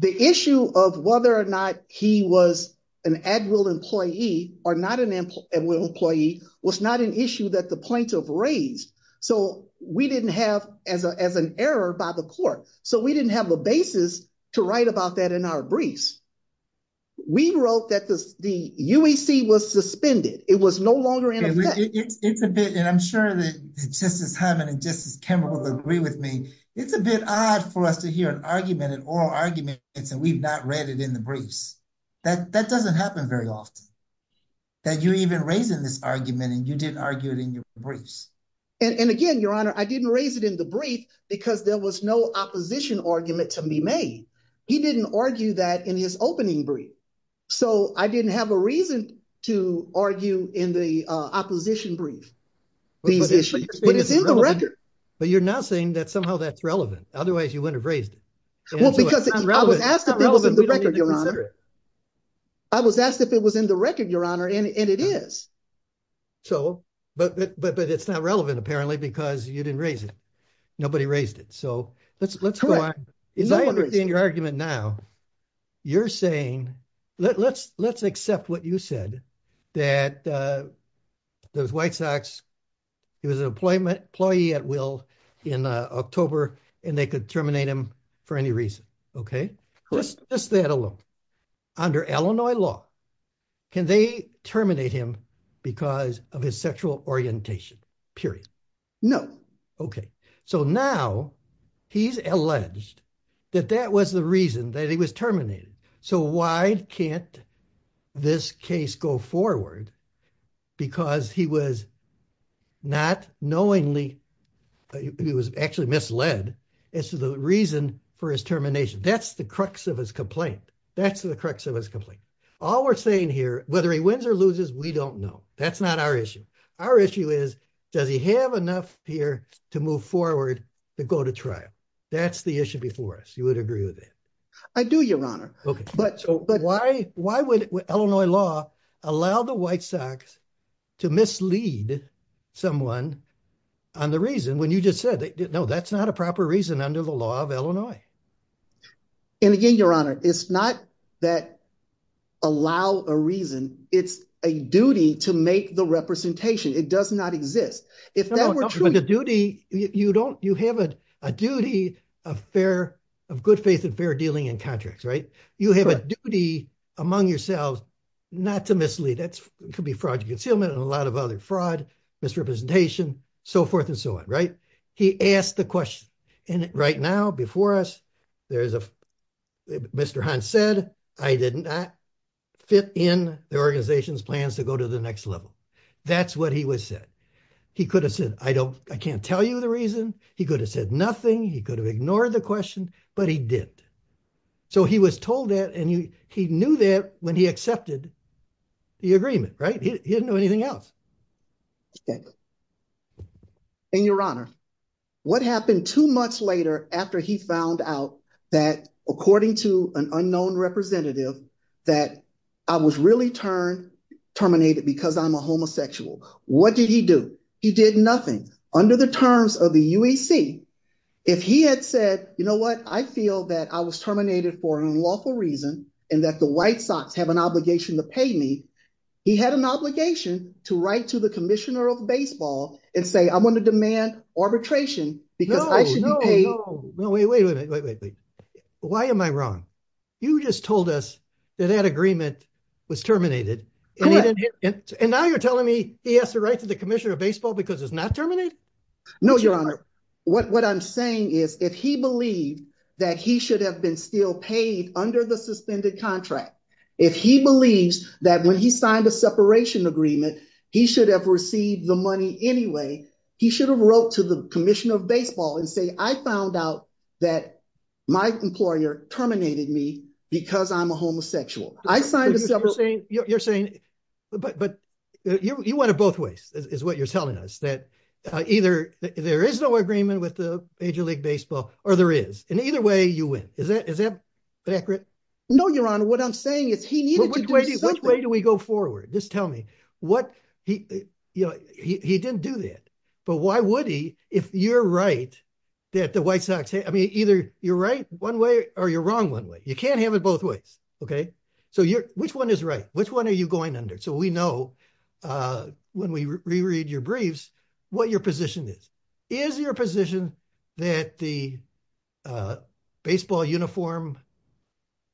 issue of whether or not he was an at-will employee or not an at-will employee was not an issue that the plaintiff raised. So, we didn't have as an error by the court. So, we didn't have a basis to write about that in our brief. We wrote that the UEC was suspended. It was no longer in effect. It's a bit, and I'm sure that Justice Hyman and Justice Kemmel will agree with me, it's a bit odd for us to hear an argument, an oral argument, that we've not read it in the briefs. That doesn't happen very often, that you even raise this argument and you didn't argue it in your briefs. And, again, Your Honor, I didn't raise it in the brief because there was no opposition argument to be made. He didn't argue that in his opening brief. So, I didn't have a reason to argue in the opposition brief. But it's in the record. But you're now saying that somehow that's relevant. Otherwise, you wouldn't have raised it. I was asked if it was in the record, Your Honor, and it is. So, but it's not relevant, apparently, because you didn't raise it. Nobody raised it. So, let's go on. If I understand your argument now, you're saying, let's accept what you said, that the White Sox, he was an employee at will in October, and they could terminate him for any reason. Okay? Let's just add a little. Under Illinois law, can they terminate him because of his sexual orientation? Period. No. Okay. So, now he's alleged that that was the reason that he was terminated. So, why can't this case go forward? Because he was not knowingly, he was actually misled as to the reason for his termination. That's the crux of his complaint. That's the crux of his complaint. All we're saying here, whether he wins or loses, we don't know. That's not our issue. Our issue is, does he have enough here to move forward to go to trial? That's the issue before us. You would agree with that? I do, Your Honor. Okay. But why would Illinois law allow the White Sox to mislead someone on the reason when you just said, no, that's not a proper reason under the law of Illinois. And again, Your Honor, it's not that allow a reason. It's a duty to make the representation. It does not exist. If that were true. The duty, you don't, you have a duty of fair, of good faith and fair dealing in contracts, right? You have a duty among yourselves not to mislead. That could be fraudulent concealment and a lot of other fraud, misrepresentation, so forth and so on, right? He asked the question. And right now, before us, there's a, Mr. Hunt said, I did not fit in the organization's plans to go to the next level. That's what he would say. He could have said, I don't, I can't tell you the reason. He could have said nothing. He could have ignored the question, but he did. So he was told that and he knew that when he accepted the agreement, right? He didn't know anything else. Okay. And, Your Honor, what happened two months later after he found out that, according to an unknown representative, that I was really terminated because I'm a homosexual? What did he do? He did nothing. Under the terms of the UEC, if he had said, you know what, I feel that I was terminated for an unlawful reason and that the White Sox have an obligation to pay me, he had an obligation to write to the Commissioner of Baseball and say, I'm going to demand arbitration because I should be paid. No, wait, wait, wait, wait, wait, wait. Why am I wrong? You just told us that that agreement was terminated. And now you're telling me he has to write to the Commissioner of Baseball because it's not terminated? No, Your Honor. What I'm saying is, if he believes that he should have been still paid under the suspended contract, if he believes that when he signed a separation agreement, he should have received the money anyway, he should have wrote to the Commissioner of Baseball and say, I found out that my employer terminated me because I'm a homosexual. I signed a separate— You're saying—but you went it both ways, is what you're telling us, that either there is no agreement with the Major League Baseball or there is. And either way, you win. Is that accurate? No, Your Honor. What I'm saying is he needed to do something. Which way do we go forward? Just tell me. He didn't do that. But why would he, if you're right, that the White Sox—I mean, either you're right one way or you're wrong one way. You can't have it both ways. Okay? So which one is right? Which one are you going under? So we know, when we reread your briefs, what your position is. Is your position that the baseball uniform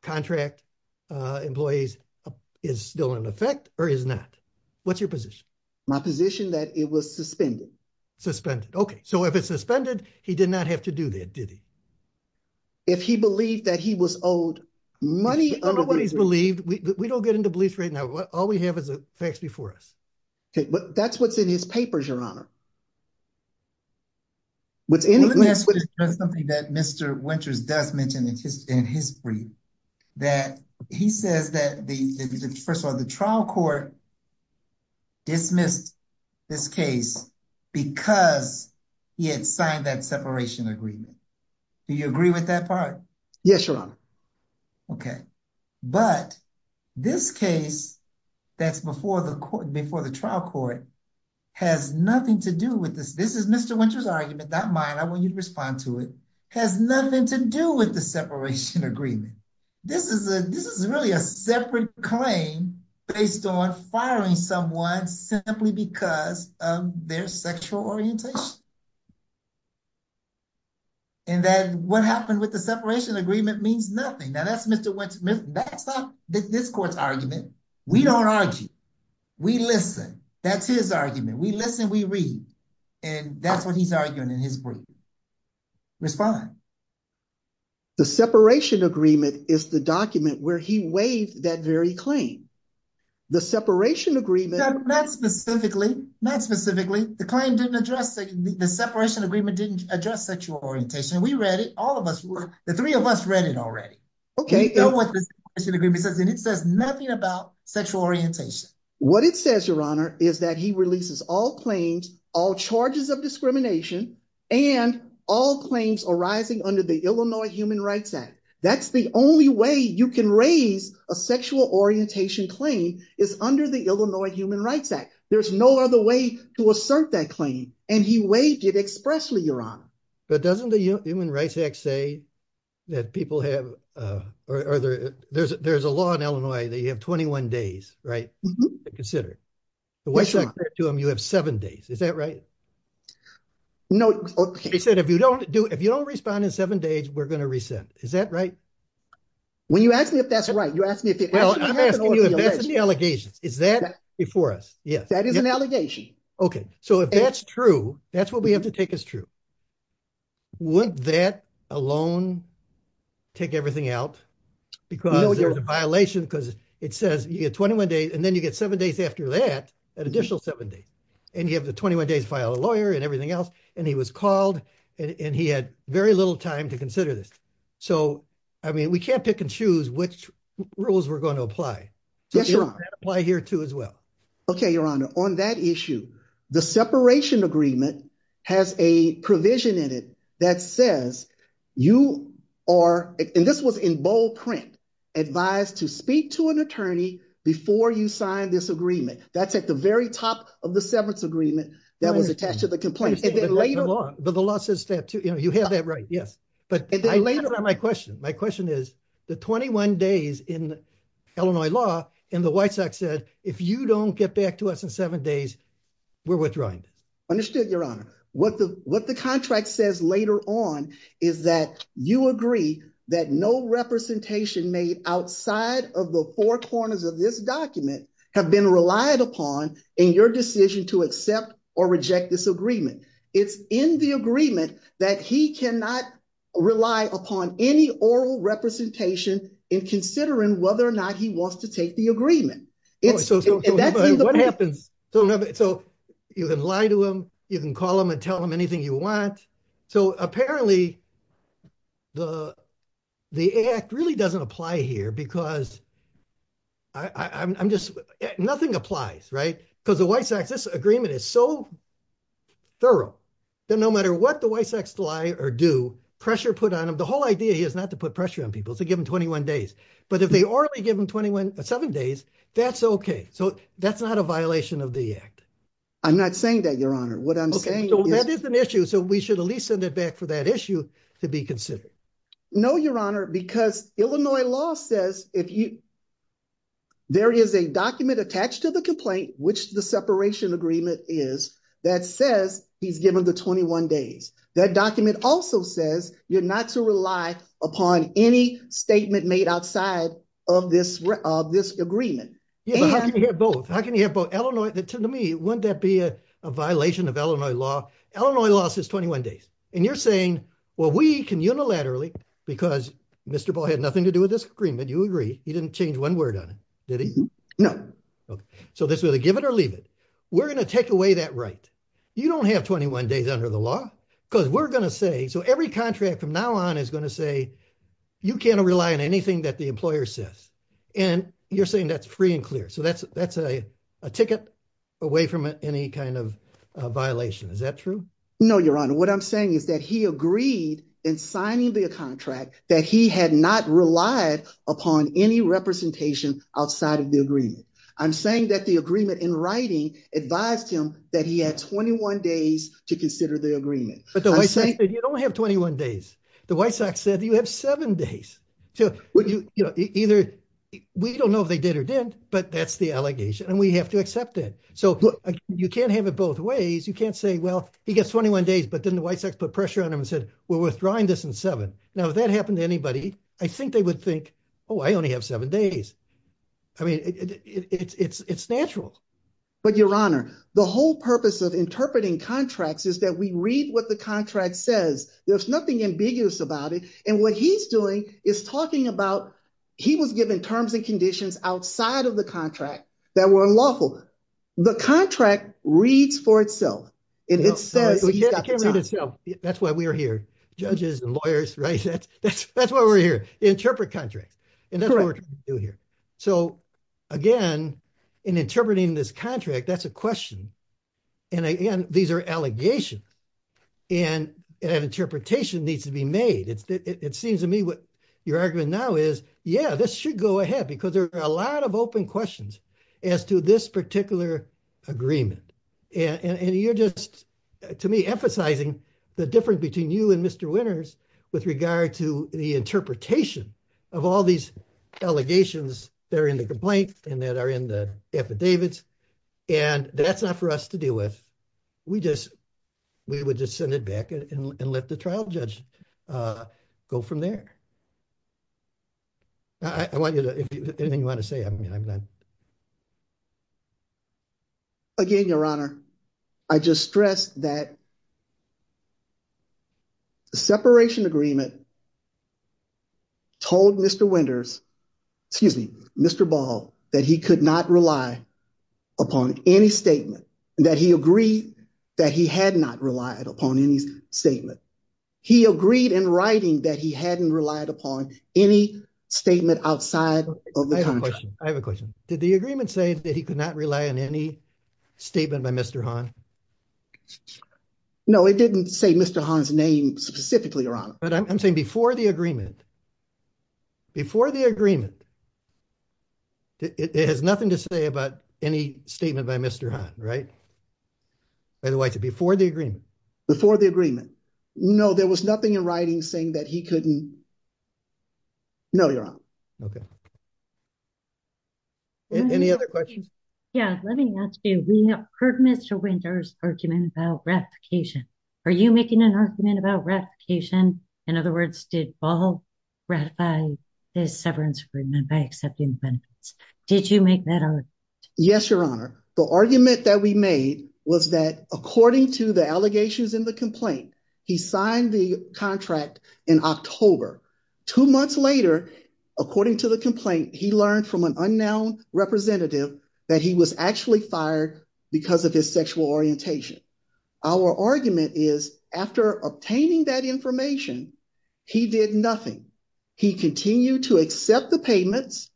contract employees is still in effect or is it not? What's your position? My position that it was suspended. Suspended. Okay. So if it's suspended, he did not have to do that, did he? If he believed that he was owed money— Everybody's believed. We don't get into bleach right now. All we have is the facts before us. Okay. But that's what's in his papers, Your Honor. Wouldn't that be something that Mr. Winters does mention in his brief? That he says that, first of all, the trial court dismissed this case because he had signed that separation agreement. Do you agree with that part? Yes, Your Honor. Okay. But this case that's before the trial court has nothing to do with this. This is Mr. Winters' argument, not mine. I want you to respond to it. Has nothing to do with the separation agreement. This is really a separate claim based on firing someone simply because of their sexual orientation. And that what happened with the separation agreement means nothing. Now, that's not this court's argument. We don't argue. We listen. That's his argument. We listen, we read. And that's what he's arguing in his brief. Respond. The separation agreement is the document where he waived that very claim. The separation agreement— Not specifically. Not specifically. The claim didn't address—the separation agreement didn't address sexual orientation. We read it. All of us read it. The three of us read it already. Okay. We don't want the separation agreement because it says nothing about sexual orientation. What it says, Your Honor, is that he releases all claims, all charges of discrimination, and all claims arising under the Illinois Human Rights Act. That's the only way you can raise a sexual orientation claim is under the Illinois Human Rights Act. There's no other way to assert that claim. And he waived it expressly, Your Honor. But doesn't the Human Rights Act say that people have—there's a law in Illinois that you have 21 days, right, to consider? So what if I said to him, you have seven days? Is that right? No. He said, if you don't respond in seven days, we're going to rescind. Is that right? When you ask me if that's right, you ask me if— That's the allegation. Is that before us? That is an allegation. Okay. So if that's true, that's what we have to take as true, would that alone take everything out? Because there's a violation because it says you get 21 days, and then you get seven days after that, an additional seven days. And you have the 21 days to file a lawyer and everything else, and he was called, and he had very little time to consider this. So, I mean, we can't pick and choose which rules we're going to apply. Yes, Your Honor. So you have to apply here, too, as well. Okay, Your Honor. On that issue, the separation agreement has a provision in it that says you are—and this was in bold print—advised to speak to an attorney before you sign this agreement. That's at the very top of the seventh agreement that was attached to the complaint. But the law says that, too. You have that right, yes. But I lay it on my question. My question is, the 21 days in Illinois law, and the White Sox said, if you don't get back to us in seven days, we're withdrawing. Understood, Your Honor. What the contract says later on is that you agree that no representation made outside of the four corners of this document have been relied upon in your decision to accept or reject this agreement. It's in the agreement that he cannot rely upon any oral representation in considering whether or not he wants to take the agreement. So what happens? So you can lie to him. You can call him and tell him anything you want. So apparently the act really doesn't apply here because I'm just—nothing applies, right? Because the White Sox—this agreement is so thorough that no matter what the White Sox lie or do, pressure put on them—the whole idea is not to put pressure on people. It's to give them 21 days. But if they already give them seven days, that's okay. So that's not a violation of the act. I'm not saying that, Your Honor. What I'm saying is— Okay, so that is an issue. So we should at least send it back for that issue to be considered. No, Your Honor, because Illinois law says if you—there is a document attached to the complaint, which the separation agreement is, that says he's given the 21 days. That document also says you're not to rely upon any statement made outside of this agreement. How can you hear both? How can you hear both? To me, wouldn't that be a violation of Illinois law? Illinois law says 21 days. And you're saying, well, we can unilaterally—because Mr. Ball had nothing to do with this agreement. You agree. He didn't change one word on it, did he? No. So this is a give it or leave it. We're going to take away that right. You don't have 21 days under the law because we're going to say—so every contract from now on is going to say you can't rely on anything that the employer says. And you're saying that's free and clear. So that's a ticket away from any kind of violation. Is that true? No, Your Honor. What I'm saying is that he agreed in signing the contract that he had not relied upon any representation outside of the agreement. I'm saying that the agreement in writing advised him that he had 21 days to consider the agreement. But the White Sox said you don't have 21 days. The White Sox said you have seven days. Either—we don't know if they did or didn't, but that's the allegation, and we have to accept that. So you can't have it both ways. You can't say, well, he gets 21 days, but then the White Sox put pressure on him and said, we're withdrawing this in seven. Now, if that happened to anybody, I think they would think, oh, I only have seven days. I mean, it's natural. But, Your Honor, the whole purpose of interpreting contracts is that we read what the contract says. There's nothing ambiguous about it. And what he's doing is talking about—he was given terms and conditions outside of the contract that were unlawful. The contract reads for itself. It said— It can't read itself. That's why we're here, judges and lawyers, right? That's why we're here, interpret contracts. And that's what we're trying to do here. So, again, in interpreting this contract, that's a question. And, again, these are allegations. And an interpretation needs to be made. It seems to me what you're arguing now is, yeah, this should go ahead because there are a lot of open questions as to this particular agreement. And you're just, to me, emphasizing the difference between you and Mr. Winters with regard to the interpretation of all these allegations that are in the complaint and that are in the affidavits. And that's not for us to deal with. We just—we would just send it back and let the trial judge go from there. I want you to—if there's anything you want to say, I mean, I'm not— Again, Your Honor, I just stress that the separation agreement told Mr. Winters—excuse me, Mr. Ball—that he could not rely upon any statement, that he agreed that he had not relied upon any statement. He agreed in writing that he hadn't relied upon any statement outside of the contract. I have a question. I have a question. Did the agreement say that he could not rely on any statement by Mr. Hahn? No, it didn't say Mr. Hahn's name specifically, Your Honor. But I'm saying before the agreement, before the agreement, it has nothing to say about any statement by Mr. Hahn, right? By the way, before the agreement. Before the agreement. No, there was nothing in writing saying that he couldn't—no, Your Honor. Okay. Any other questions? Yeah, let me ask you. We heard Mr. Winters' argument about ratification. Are you making an argument about ratification? In other words, did Ball ratify his severance agreement by accepting the benefits? Did you make that argument? Yes, Your Honor. The argument that we made was that according to the allegations in the complaint, he signed the contract in October. Two months later, according to the complaint, he learned from an unknown representative that he was actually fired because of his sexual orientation. Our argument is after obtaining that information, he did nothing. He continued to accept the payments.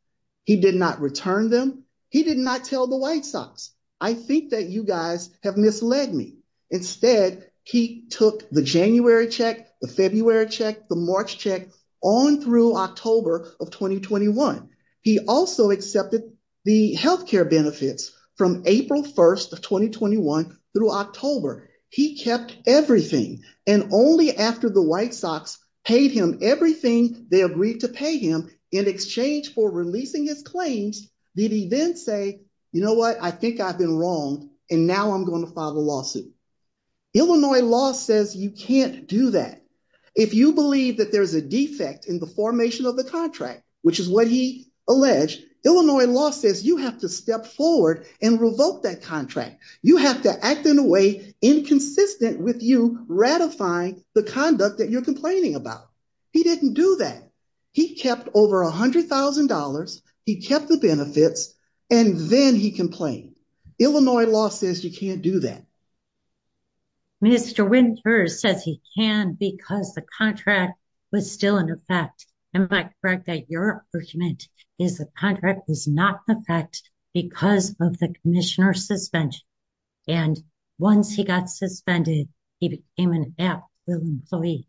He did not return them. He did not tell the White Sox, I think that you guys have misled me. Instead, he took the January check, the February check, the March check on through October of 2021. He also accepted the health care benefits from April 1st of 2021 through October. He kept everything, and only after the White Sox paid him everything they agreed to pay him in exchange for releasing his claims did he then say, you know what, I think I've been wrong, and now I'm going to file a lawsuit. Illinois law says you can't do that. If you believe that there's a defect in the formation of a contract, which is what he alleged, Illinois law says you have to step forward and revoke that contract. You have to act in a way inconsistent with you ratifying the conduct that you're complaining about. He didn't do that. He kept over $100,000, he kept the benefits, and then he complained. Illinois law says you can't do that. Mr. Winters says he can because the contract was still in effect. Am I correct that your argument is the contract was not in effect because of the commissioner's suspension? And once he got suspended, he became an out-of-job employee?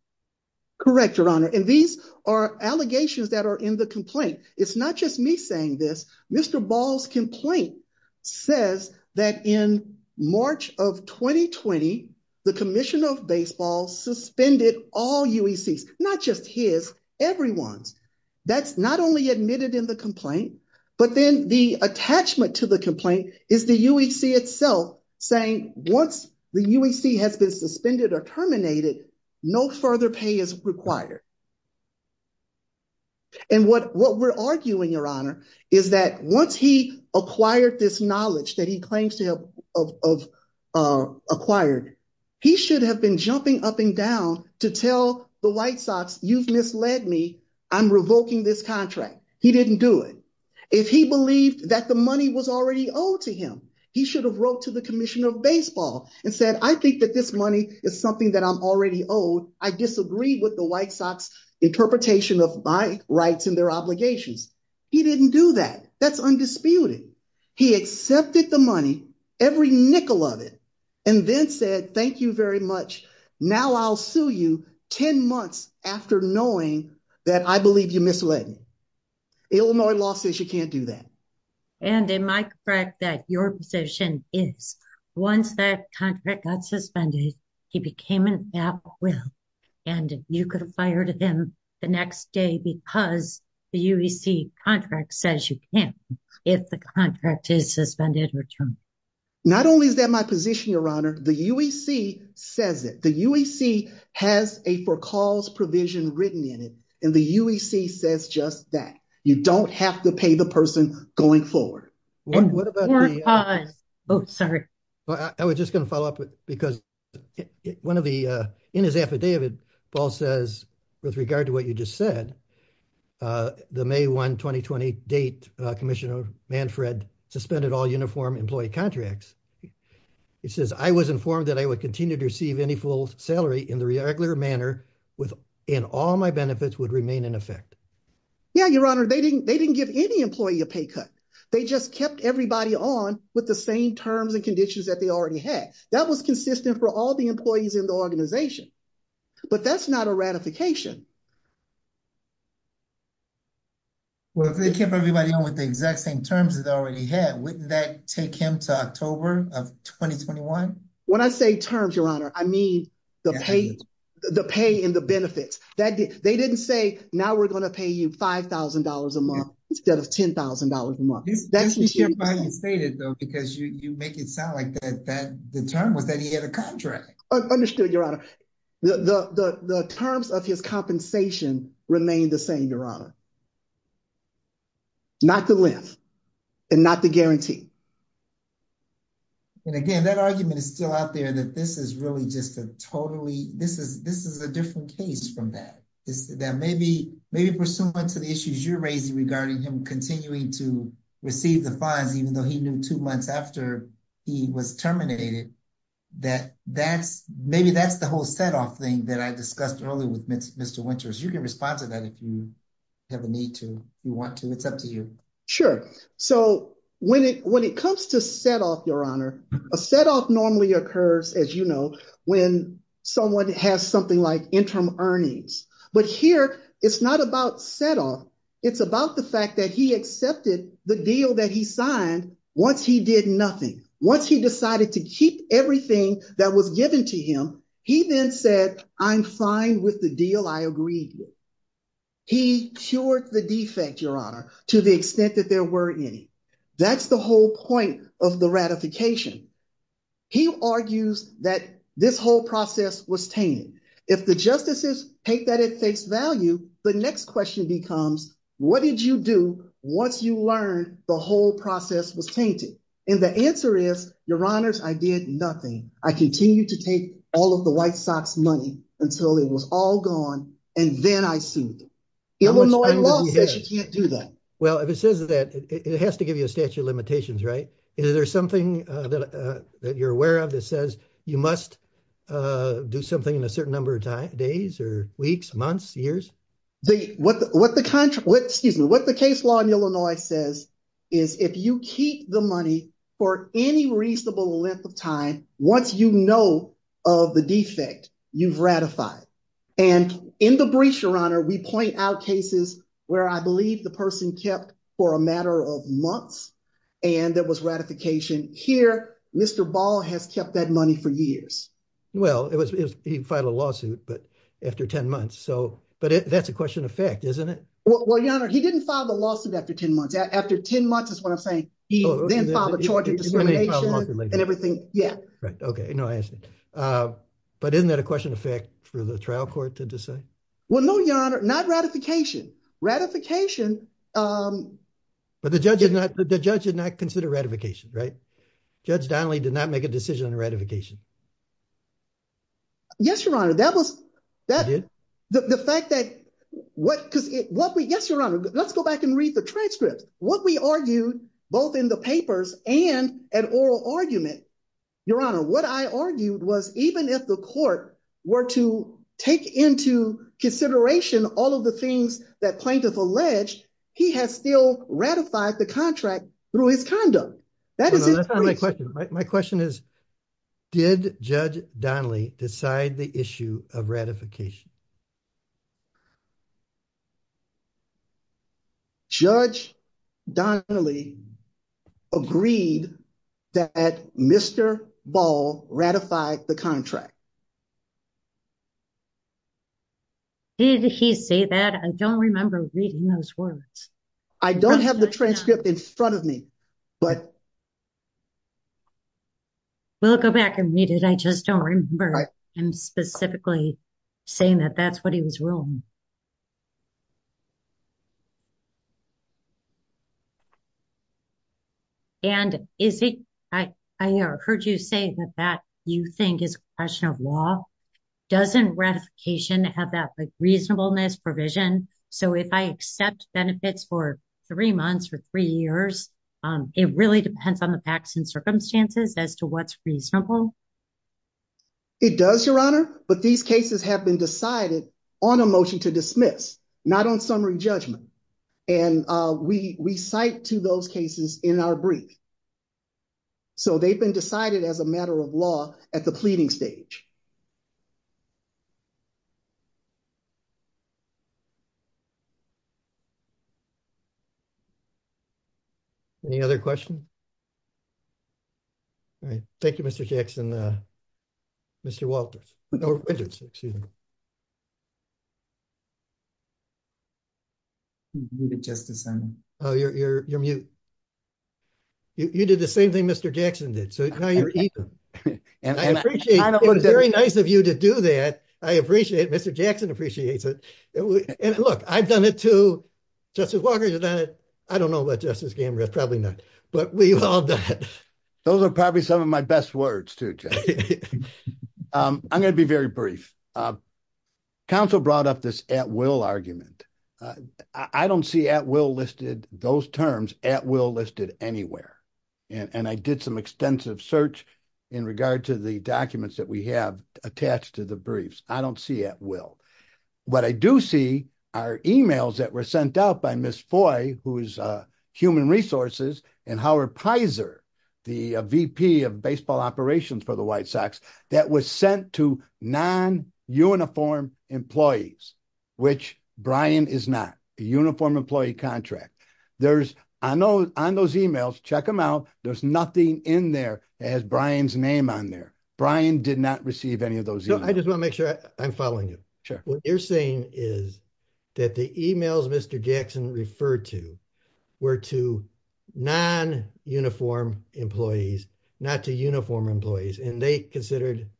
Correct, Your Honor. And these are allegations that are in the complaint. It's not just me saying this, Mr. Ball's complaint says that in March of 2020, the Commission of Baseball suspended all UECs, not just his, everyone. That's not only admitted in the complaint, but then the attachment to the complaint is the UEC itself saying once the UEC has been suspended or terminated, no further pay is required. And what we're arguing, Your Honor, is that once he acquired this knowledge that he claims to have acquired, he should have been jumping up and down to tell the White Sox, you've misled me, I'm revoking this contract. He didn't do it. If he believed that the money was already owed to him, he should have wrote to the Commissioner of Baseball and said, I think that this money is something that I'm already owed. I disagree with the White Sox interpretation of my rights and their obligations. He didn't do that. That's undisputed. He accepted the money, every nickel of it, and then said, thank you very much. Now I'll sue you 10 months after knowing that I believe you misled me. Illinois law says you can't do that. And it might correct that your position is once that contract got suspended, he became an acquittal, and you could have fired him the next day because the UEC contract says you can't if the contract is suspended or terminated. Not only is that my position, Your Honor, the UEC says it. The UEC has a for-calls provision written in it, and the UEC says just that. You don't have to pay the person going forward. Oh, sorry. I was just going to follow up, because in his affidavit, Paul says, with regard to what you just said, the May 1, 2020 date, Commissioner Manfred suspended all uniform employee contracts. It says, I was informed that I would continue to receive any full salary in the regular manner, and all my benefits would remain in effect. Yeah, Your Honor, they didn't give any employee a pay cut. They just kept everybody on with the same terms and conditions that they already had. That was consistent for all the employees in the organization. But that's not a ratification. Well, if they kept everybody on with the exact same terms as they already had, wouldn't that take him to October of 2021? When I say terms, Your Honor, I mean the pay and the benefits. They didn't say, now we're going to pay you $5,000 a month instead of $10,000 a month. You should finally say that, though, because you make it sound like the term was that he had a contract. Understood, Your Honor. The terms of his compensation remain the same, Your Honor. Not the length and not the guarantee. And again, that argument is still out there that this is really just a totally – this is a different case from that. That maybe pursuant to the issues you're raising regarding him continuing to receive the funds, even though he knew two months after he was terminated, that maybe that's the whole set-off thing that I discussed earlier with Mr. Winters. You can respond to that if you have a need to, if you want to. It's up to you. Sure. So when it comes to set-off, Your Honor, a set-off normally occurs, as you know, when someone has something like interim earnings. But here it's not about set-off. It's about the fact that he accepted the deal that he signed once he did nothing. Once he decided to keep everything that was given to him, he then said, I'm fine with the deal. I agree. He cured the defect, Your Honor, to the extent that there were any. That's the whole point of the ratification. He argues that this whole process was tainted. If the justices take that at face value, the next question becomes, what did you do once you learned the whole process was tainted? And the answer is, Your Honor, I did nothing. I continued to take all of the White Sox money until it was all gone, and then I sued. Illinois law says you can't do that. Well, if it says that, it has to give you a statute of limitations, right? Is there something that you're aware of that says you must do something in a certain number of days or weeks, months, years? What the case law in Illinois says is if you keep the money for any reasonable length of time, once you know of the defect, you've ratified. And in the breach, Your Honor, we point out cases where I believe the person kept for a matter of months and there was ratification. Here, Mr. Ball has kept that money for years. Well, he filed a lawsuit, but after 10 months. But that's a question of fact, isn't it? Well, Your Honor, he didn't file a lawsuit after 10 months. After 10 months is what I'm saying. He then filed a charge of discrimination and everything. OK, no answer. But isn't that a question of fact for the trial court to decide? Well, no, Your Honor, not ratification. But the judge did not consider ratification, right? Judge Donnelly did not make a decision on ratification. Yes, Your Honor. Yes, Your Honor. Let's go back and read the transcript. What we argued, both in the papers and an oral argument, Your Honor, what I argued was even if the court were to take into consideration all of the things that plaintiff alleged, he has still ratified the contract through his conduct. My question is, did Judge Donnelly decide the issue of ratification? Judge Donnelly agreed that Mr. Ball ratified the contract. Did he say that? I don't remember reading those words. I don't have the transcript in front of me. We'll go back and read it. I just don't remember him specifically saying that that's what he was ruling. And I heard you say that that, you think, is a question of law. Doesn't ratification have that reasonableness provision? So if I accept benefits for three months or three years, it really depends on the facts and circumstances as to what's reasonable? It does, Your Honor. But these cases have been decided on a motion to dismiss, not on summary judgment. And we cite to those cases in our brief. So they've been decided as a matter of law at the pleading stage. Any other questions? Thank you, Mr. Jackson. Mr. Walters. You did the same thing Mr. Jackson did. So now you're even. And I appreciate it. It's very nice of you to do that. I appreciate it. Mr. Jackson appreciates it. And look, I'm not going to say anything. Look, I've done it too. Justice Walker, you've done it. I don't know what Justice Gambert is telling us. But we've all done it. Those are probably some of my best words, too. I'm going to be very brief. Counsel brought up this at-will argument. I don't see at-will listed, those terms, at-will listed anywhere. And I did some extensive search in regard to the documents that we have attached to the briefs. I don't see at-will. What I do see are e-mails that were sent out by Ms. Foy, who is Human Resources, and Howard Pizer, the VP of Baseball Operations for the White Sox, that was sent to non-uniformed employees, which Brian is not, a uniformed employee contract. There's, on those e-mails, check them out, there's nothing in there that has Brian's name on there. Brian did not receive any of those e-mails. I just want to make sure I'm following you. What you're saying is that the e-mails Mr. Jackson referred to were to non-uniformed employees, not to uniformed employees, and they considered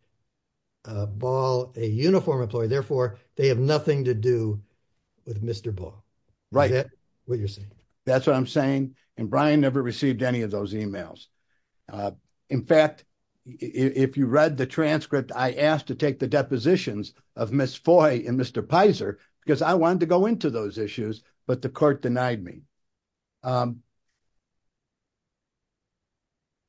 Ball a uniformed employee. Therefore, they have nothing to do with Mr. Ball. Right. Is that what you're saying? That's what I'm saying. And Brian never received any of those e-mails. In fact, if you read the transcript, I asked to take the depositions of Ms. Foy and Mr. Pizer because I wanted to go into those issues, but the court denied me.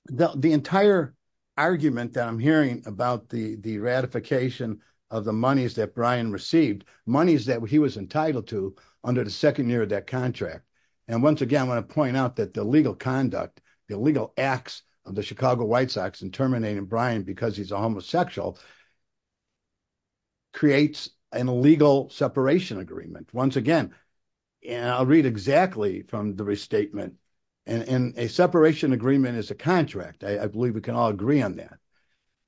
The entire argument that I'm hearing about the ratification of the monies that Brian received, monies that he was entitled to under the second year of that contract. And once again, I want to point out that the legal conduct, the legal acts of the Chicago White Sox in terminating Brian because he's a homosexual creates an illegal separation agreement. Once again, and I'll read exactly from the restatement, and a separation agreement is a contract. I believe we can all agree on that.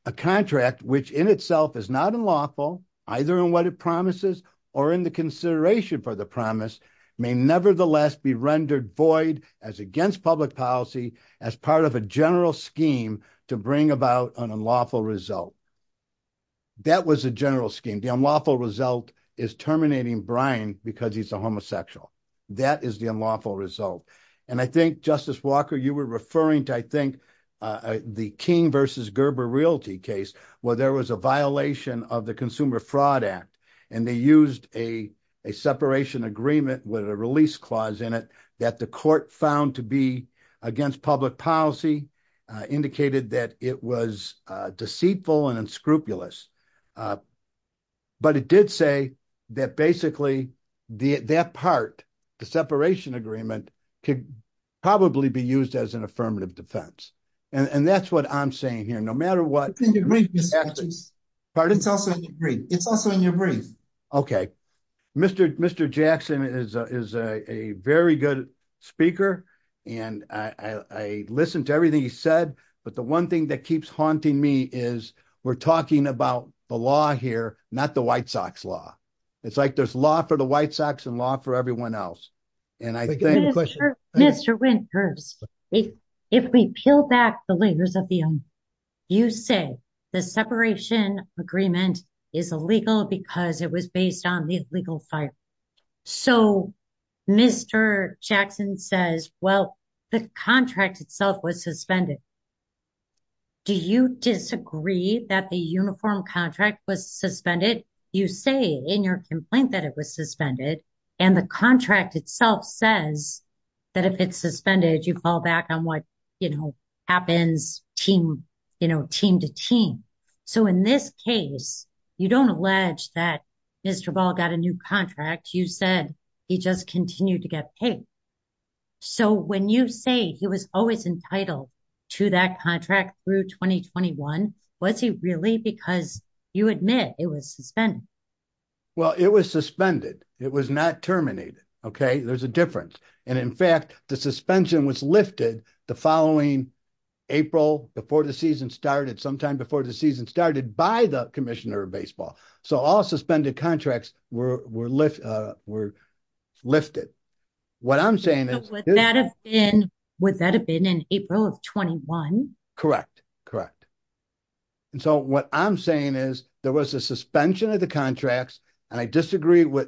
A contract, which in itself is not unlawful, either in what it promises or in the consideration for the promise, may nevertheless be rendered void as against public policy as part of a general scheme to bring about an unlawful result. That was a general scheme. The unlawful result is terminating Brian because he's a homosexual. That is the unlawful result. And I think, Justice Walker, you were referring to, I think, the King versus Gerber Realty case where there was a violation of the Consumer Fraud Act, and they used a separation agreement with a release clause in it that the court found to be against public policy, indicated that it was deceitful and unscrupulous. But it did say that basically that part, the separation agreement, could probably be used as an affirmative defense. And that's what I'm saying here. No matter what. Pardon? Okay. Mr. Jackson is a very good speaker, and I listened to everything he said, but the one thing that keeps haunting me is we're talking about the law here, not the White Sox law. It's like there's law for the White Sox and law for everyone else. Mr. Winters, if we peel back the layers of the umbrella, you say the separation agreement is illegal because it was based on the legal side. So, Mr. Jackson says, well, the contract itself was suspended. Do you disagree that the uniform contract was suspended? You say in your complaint that it was suspended, and the contract itself says that if it's suspended, you fall back on what happens team to team. So, in this case, you don't allege that Mr. Ball got a new contract. You said he just continued to get paid. So, when you say he was always entitled to that contract through 2021, was he really because you admit it was suspended? Well, it was suspended. It was not terminated. Okay. There's a difference. And in fact, the suspension was lifted the following April before the season started sometime before the season started by the commissioner of baseball. So, all suspended contracts were lifted. Would that have been in April of 21? Correct. So, what I'm saying is there was a suspension of the contracts, and I disagree with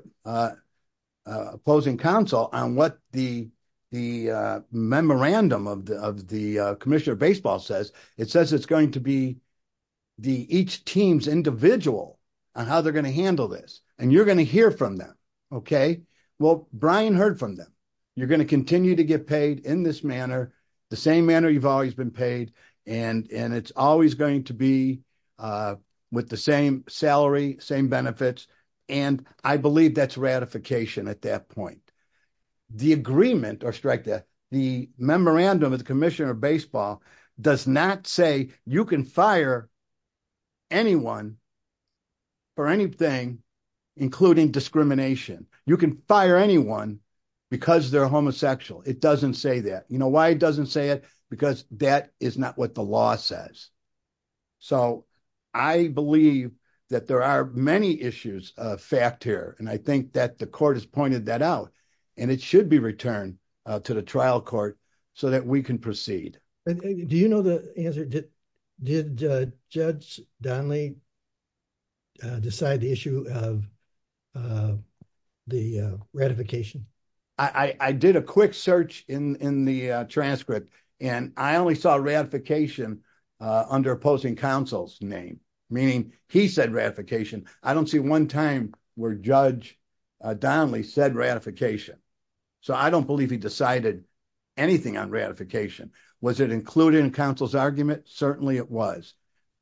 opposing counsel on what the memorandum of the commissioner of baseball says. It says it's going to be each team's individual on how they're going to handle this, and you're going to hear from them. Okay. Well, Brian heard from them. You're going to continue to get paid in this manner, the same manner you've always been paid, and it's always going to be with the same salary, same benefits, and I believe that's ratification at that point. The agreement, or strike that, the memorandum of the commissioner of baseball does not say you can fire anyone for anything, including discrimination. You can fire anyone because they're homosexual. It doesn't say that. You know why it doesn't say it? Because that is not what the law says. So, I believe that there are many issues of fact here, and I think that the court has pointed that out, and it should be returned to the trial court so that we can proceed. Do you know the answer? Did Judge Donley decide the issue of the ratification? I did a quick search in the transcript, and I only saw ratification under opposing counsel's name, meaning he said ratification. I don't see one time where Judge Donley said ratification. So, I don't believe he decided anything on ratification. Was it included in counsel's argument? Certainly it was.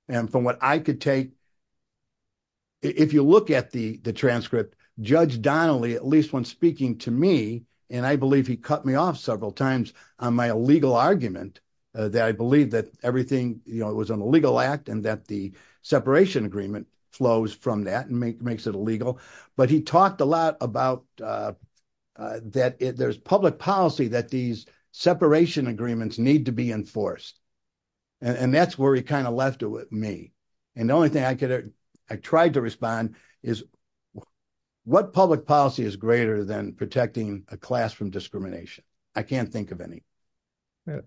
And from what I could take, if you look at the transcript, Judge Donley, at least when speaking to me, and I believe he cut me off several times on my illegal argument that I believe that everything was an illegal act and that the separation agreement flows from that and makes it illegal, but he talked a lot about that there's public policy that these separation agreements need to be enforced, and that's where he kind of left it with me. And the only thing I tried to respond is what public policy is greater than protecting a class from discrimination? I can't think of any.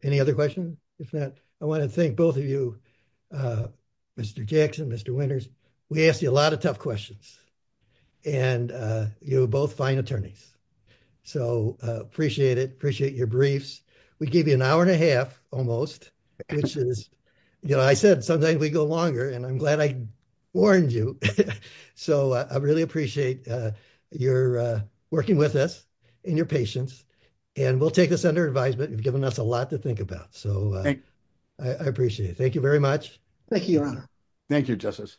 Any other questions? I want to thank both of you, Mr. Jackson, Mr. Winters. We asked you a lot of tough questions, and you're both fine attorneys. So, appreciate it. Appreciate your briefs. We gave you an hour and a half almost, which is, you know, I said sometimes we go longer, and I'm glad I warned you. So, I really appreciate your working with us and your patience, and we'll take this under advisement. You've given us a lot to think about. So, I appreciate it. Thank you very much. Thank you, Your Honor. Thank you, Justice.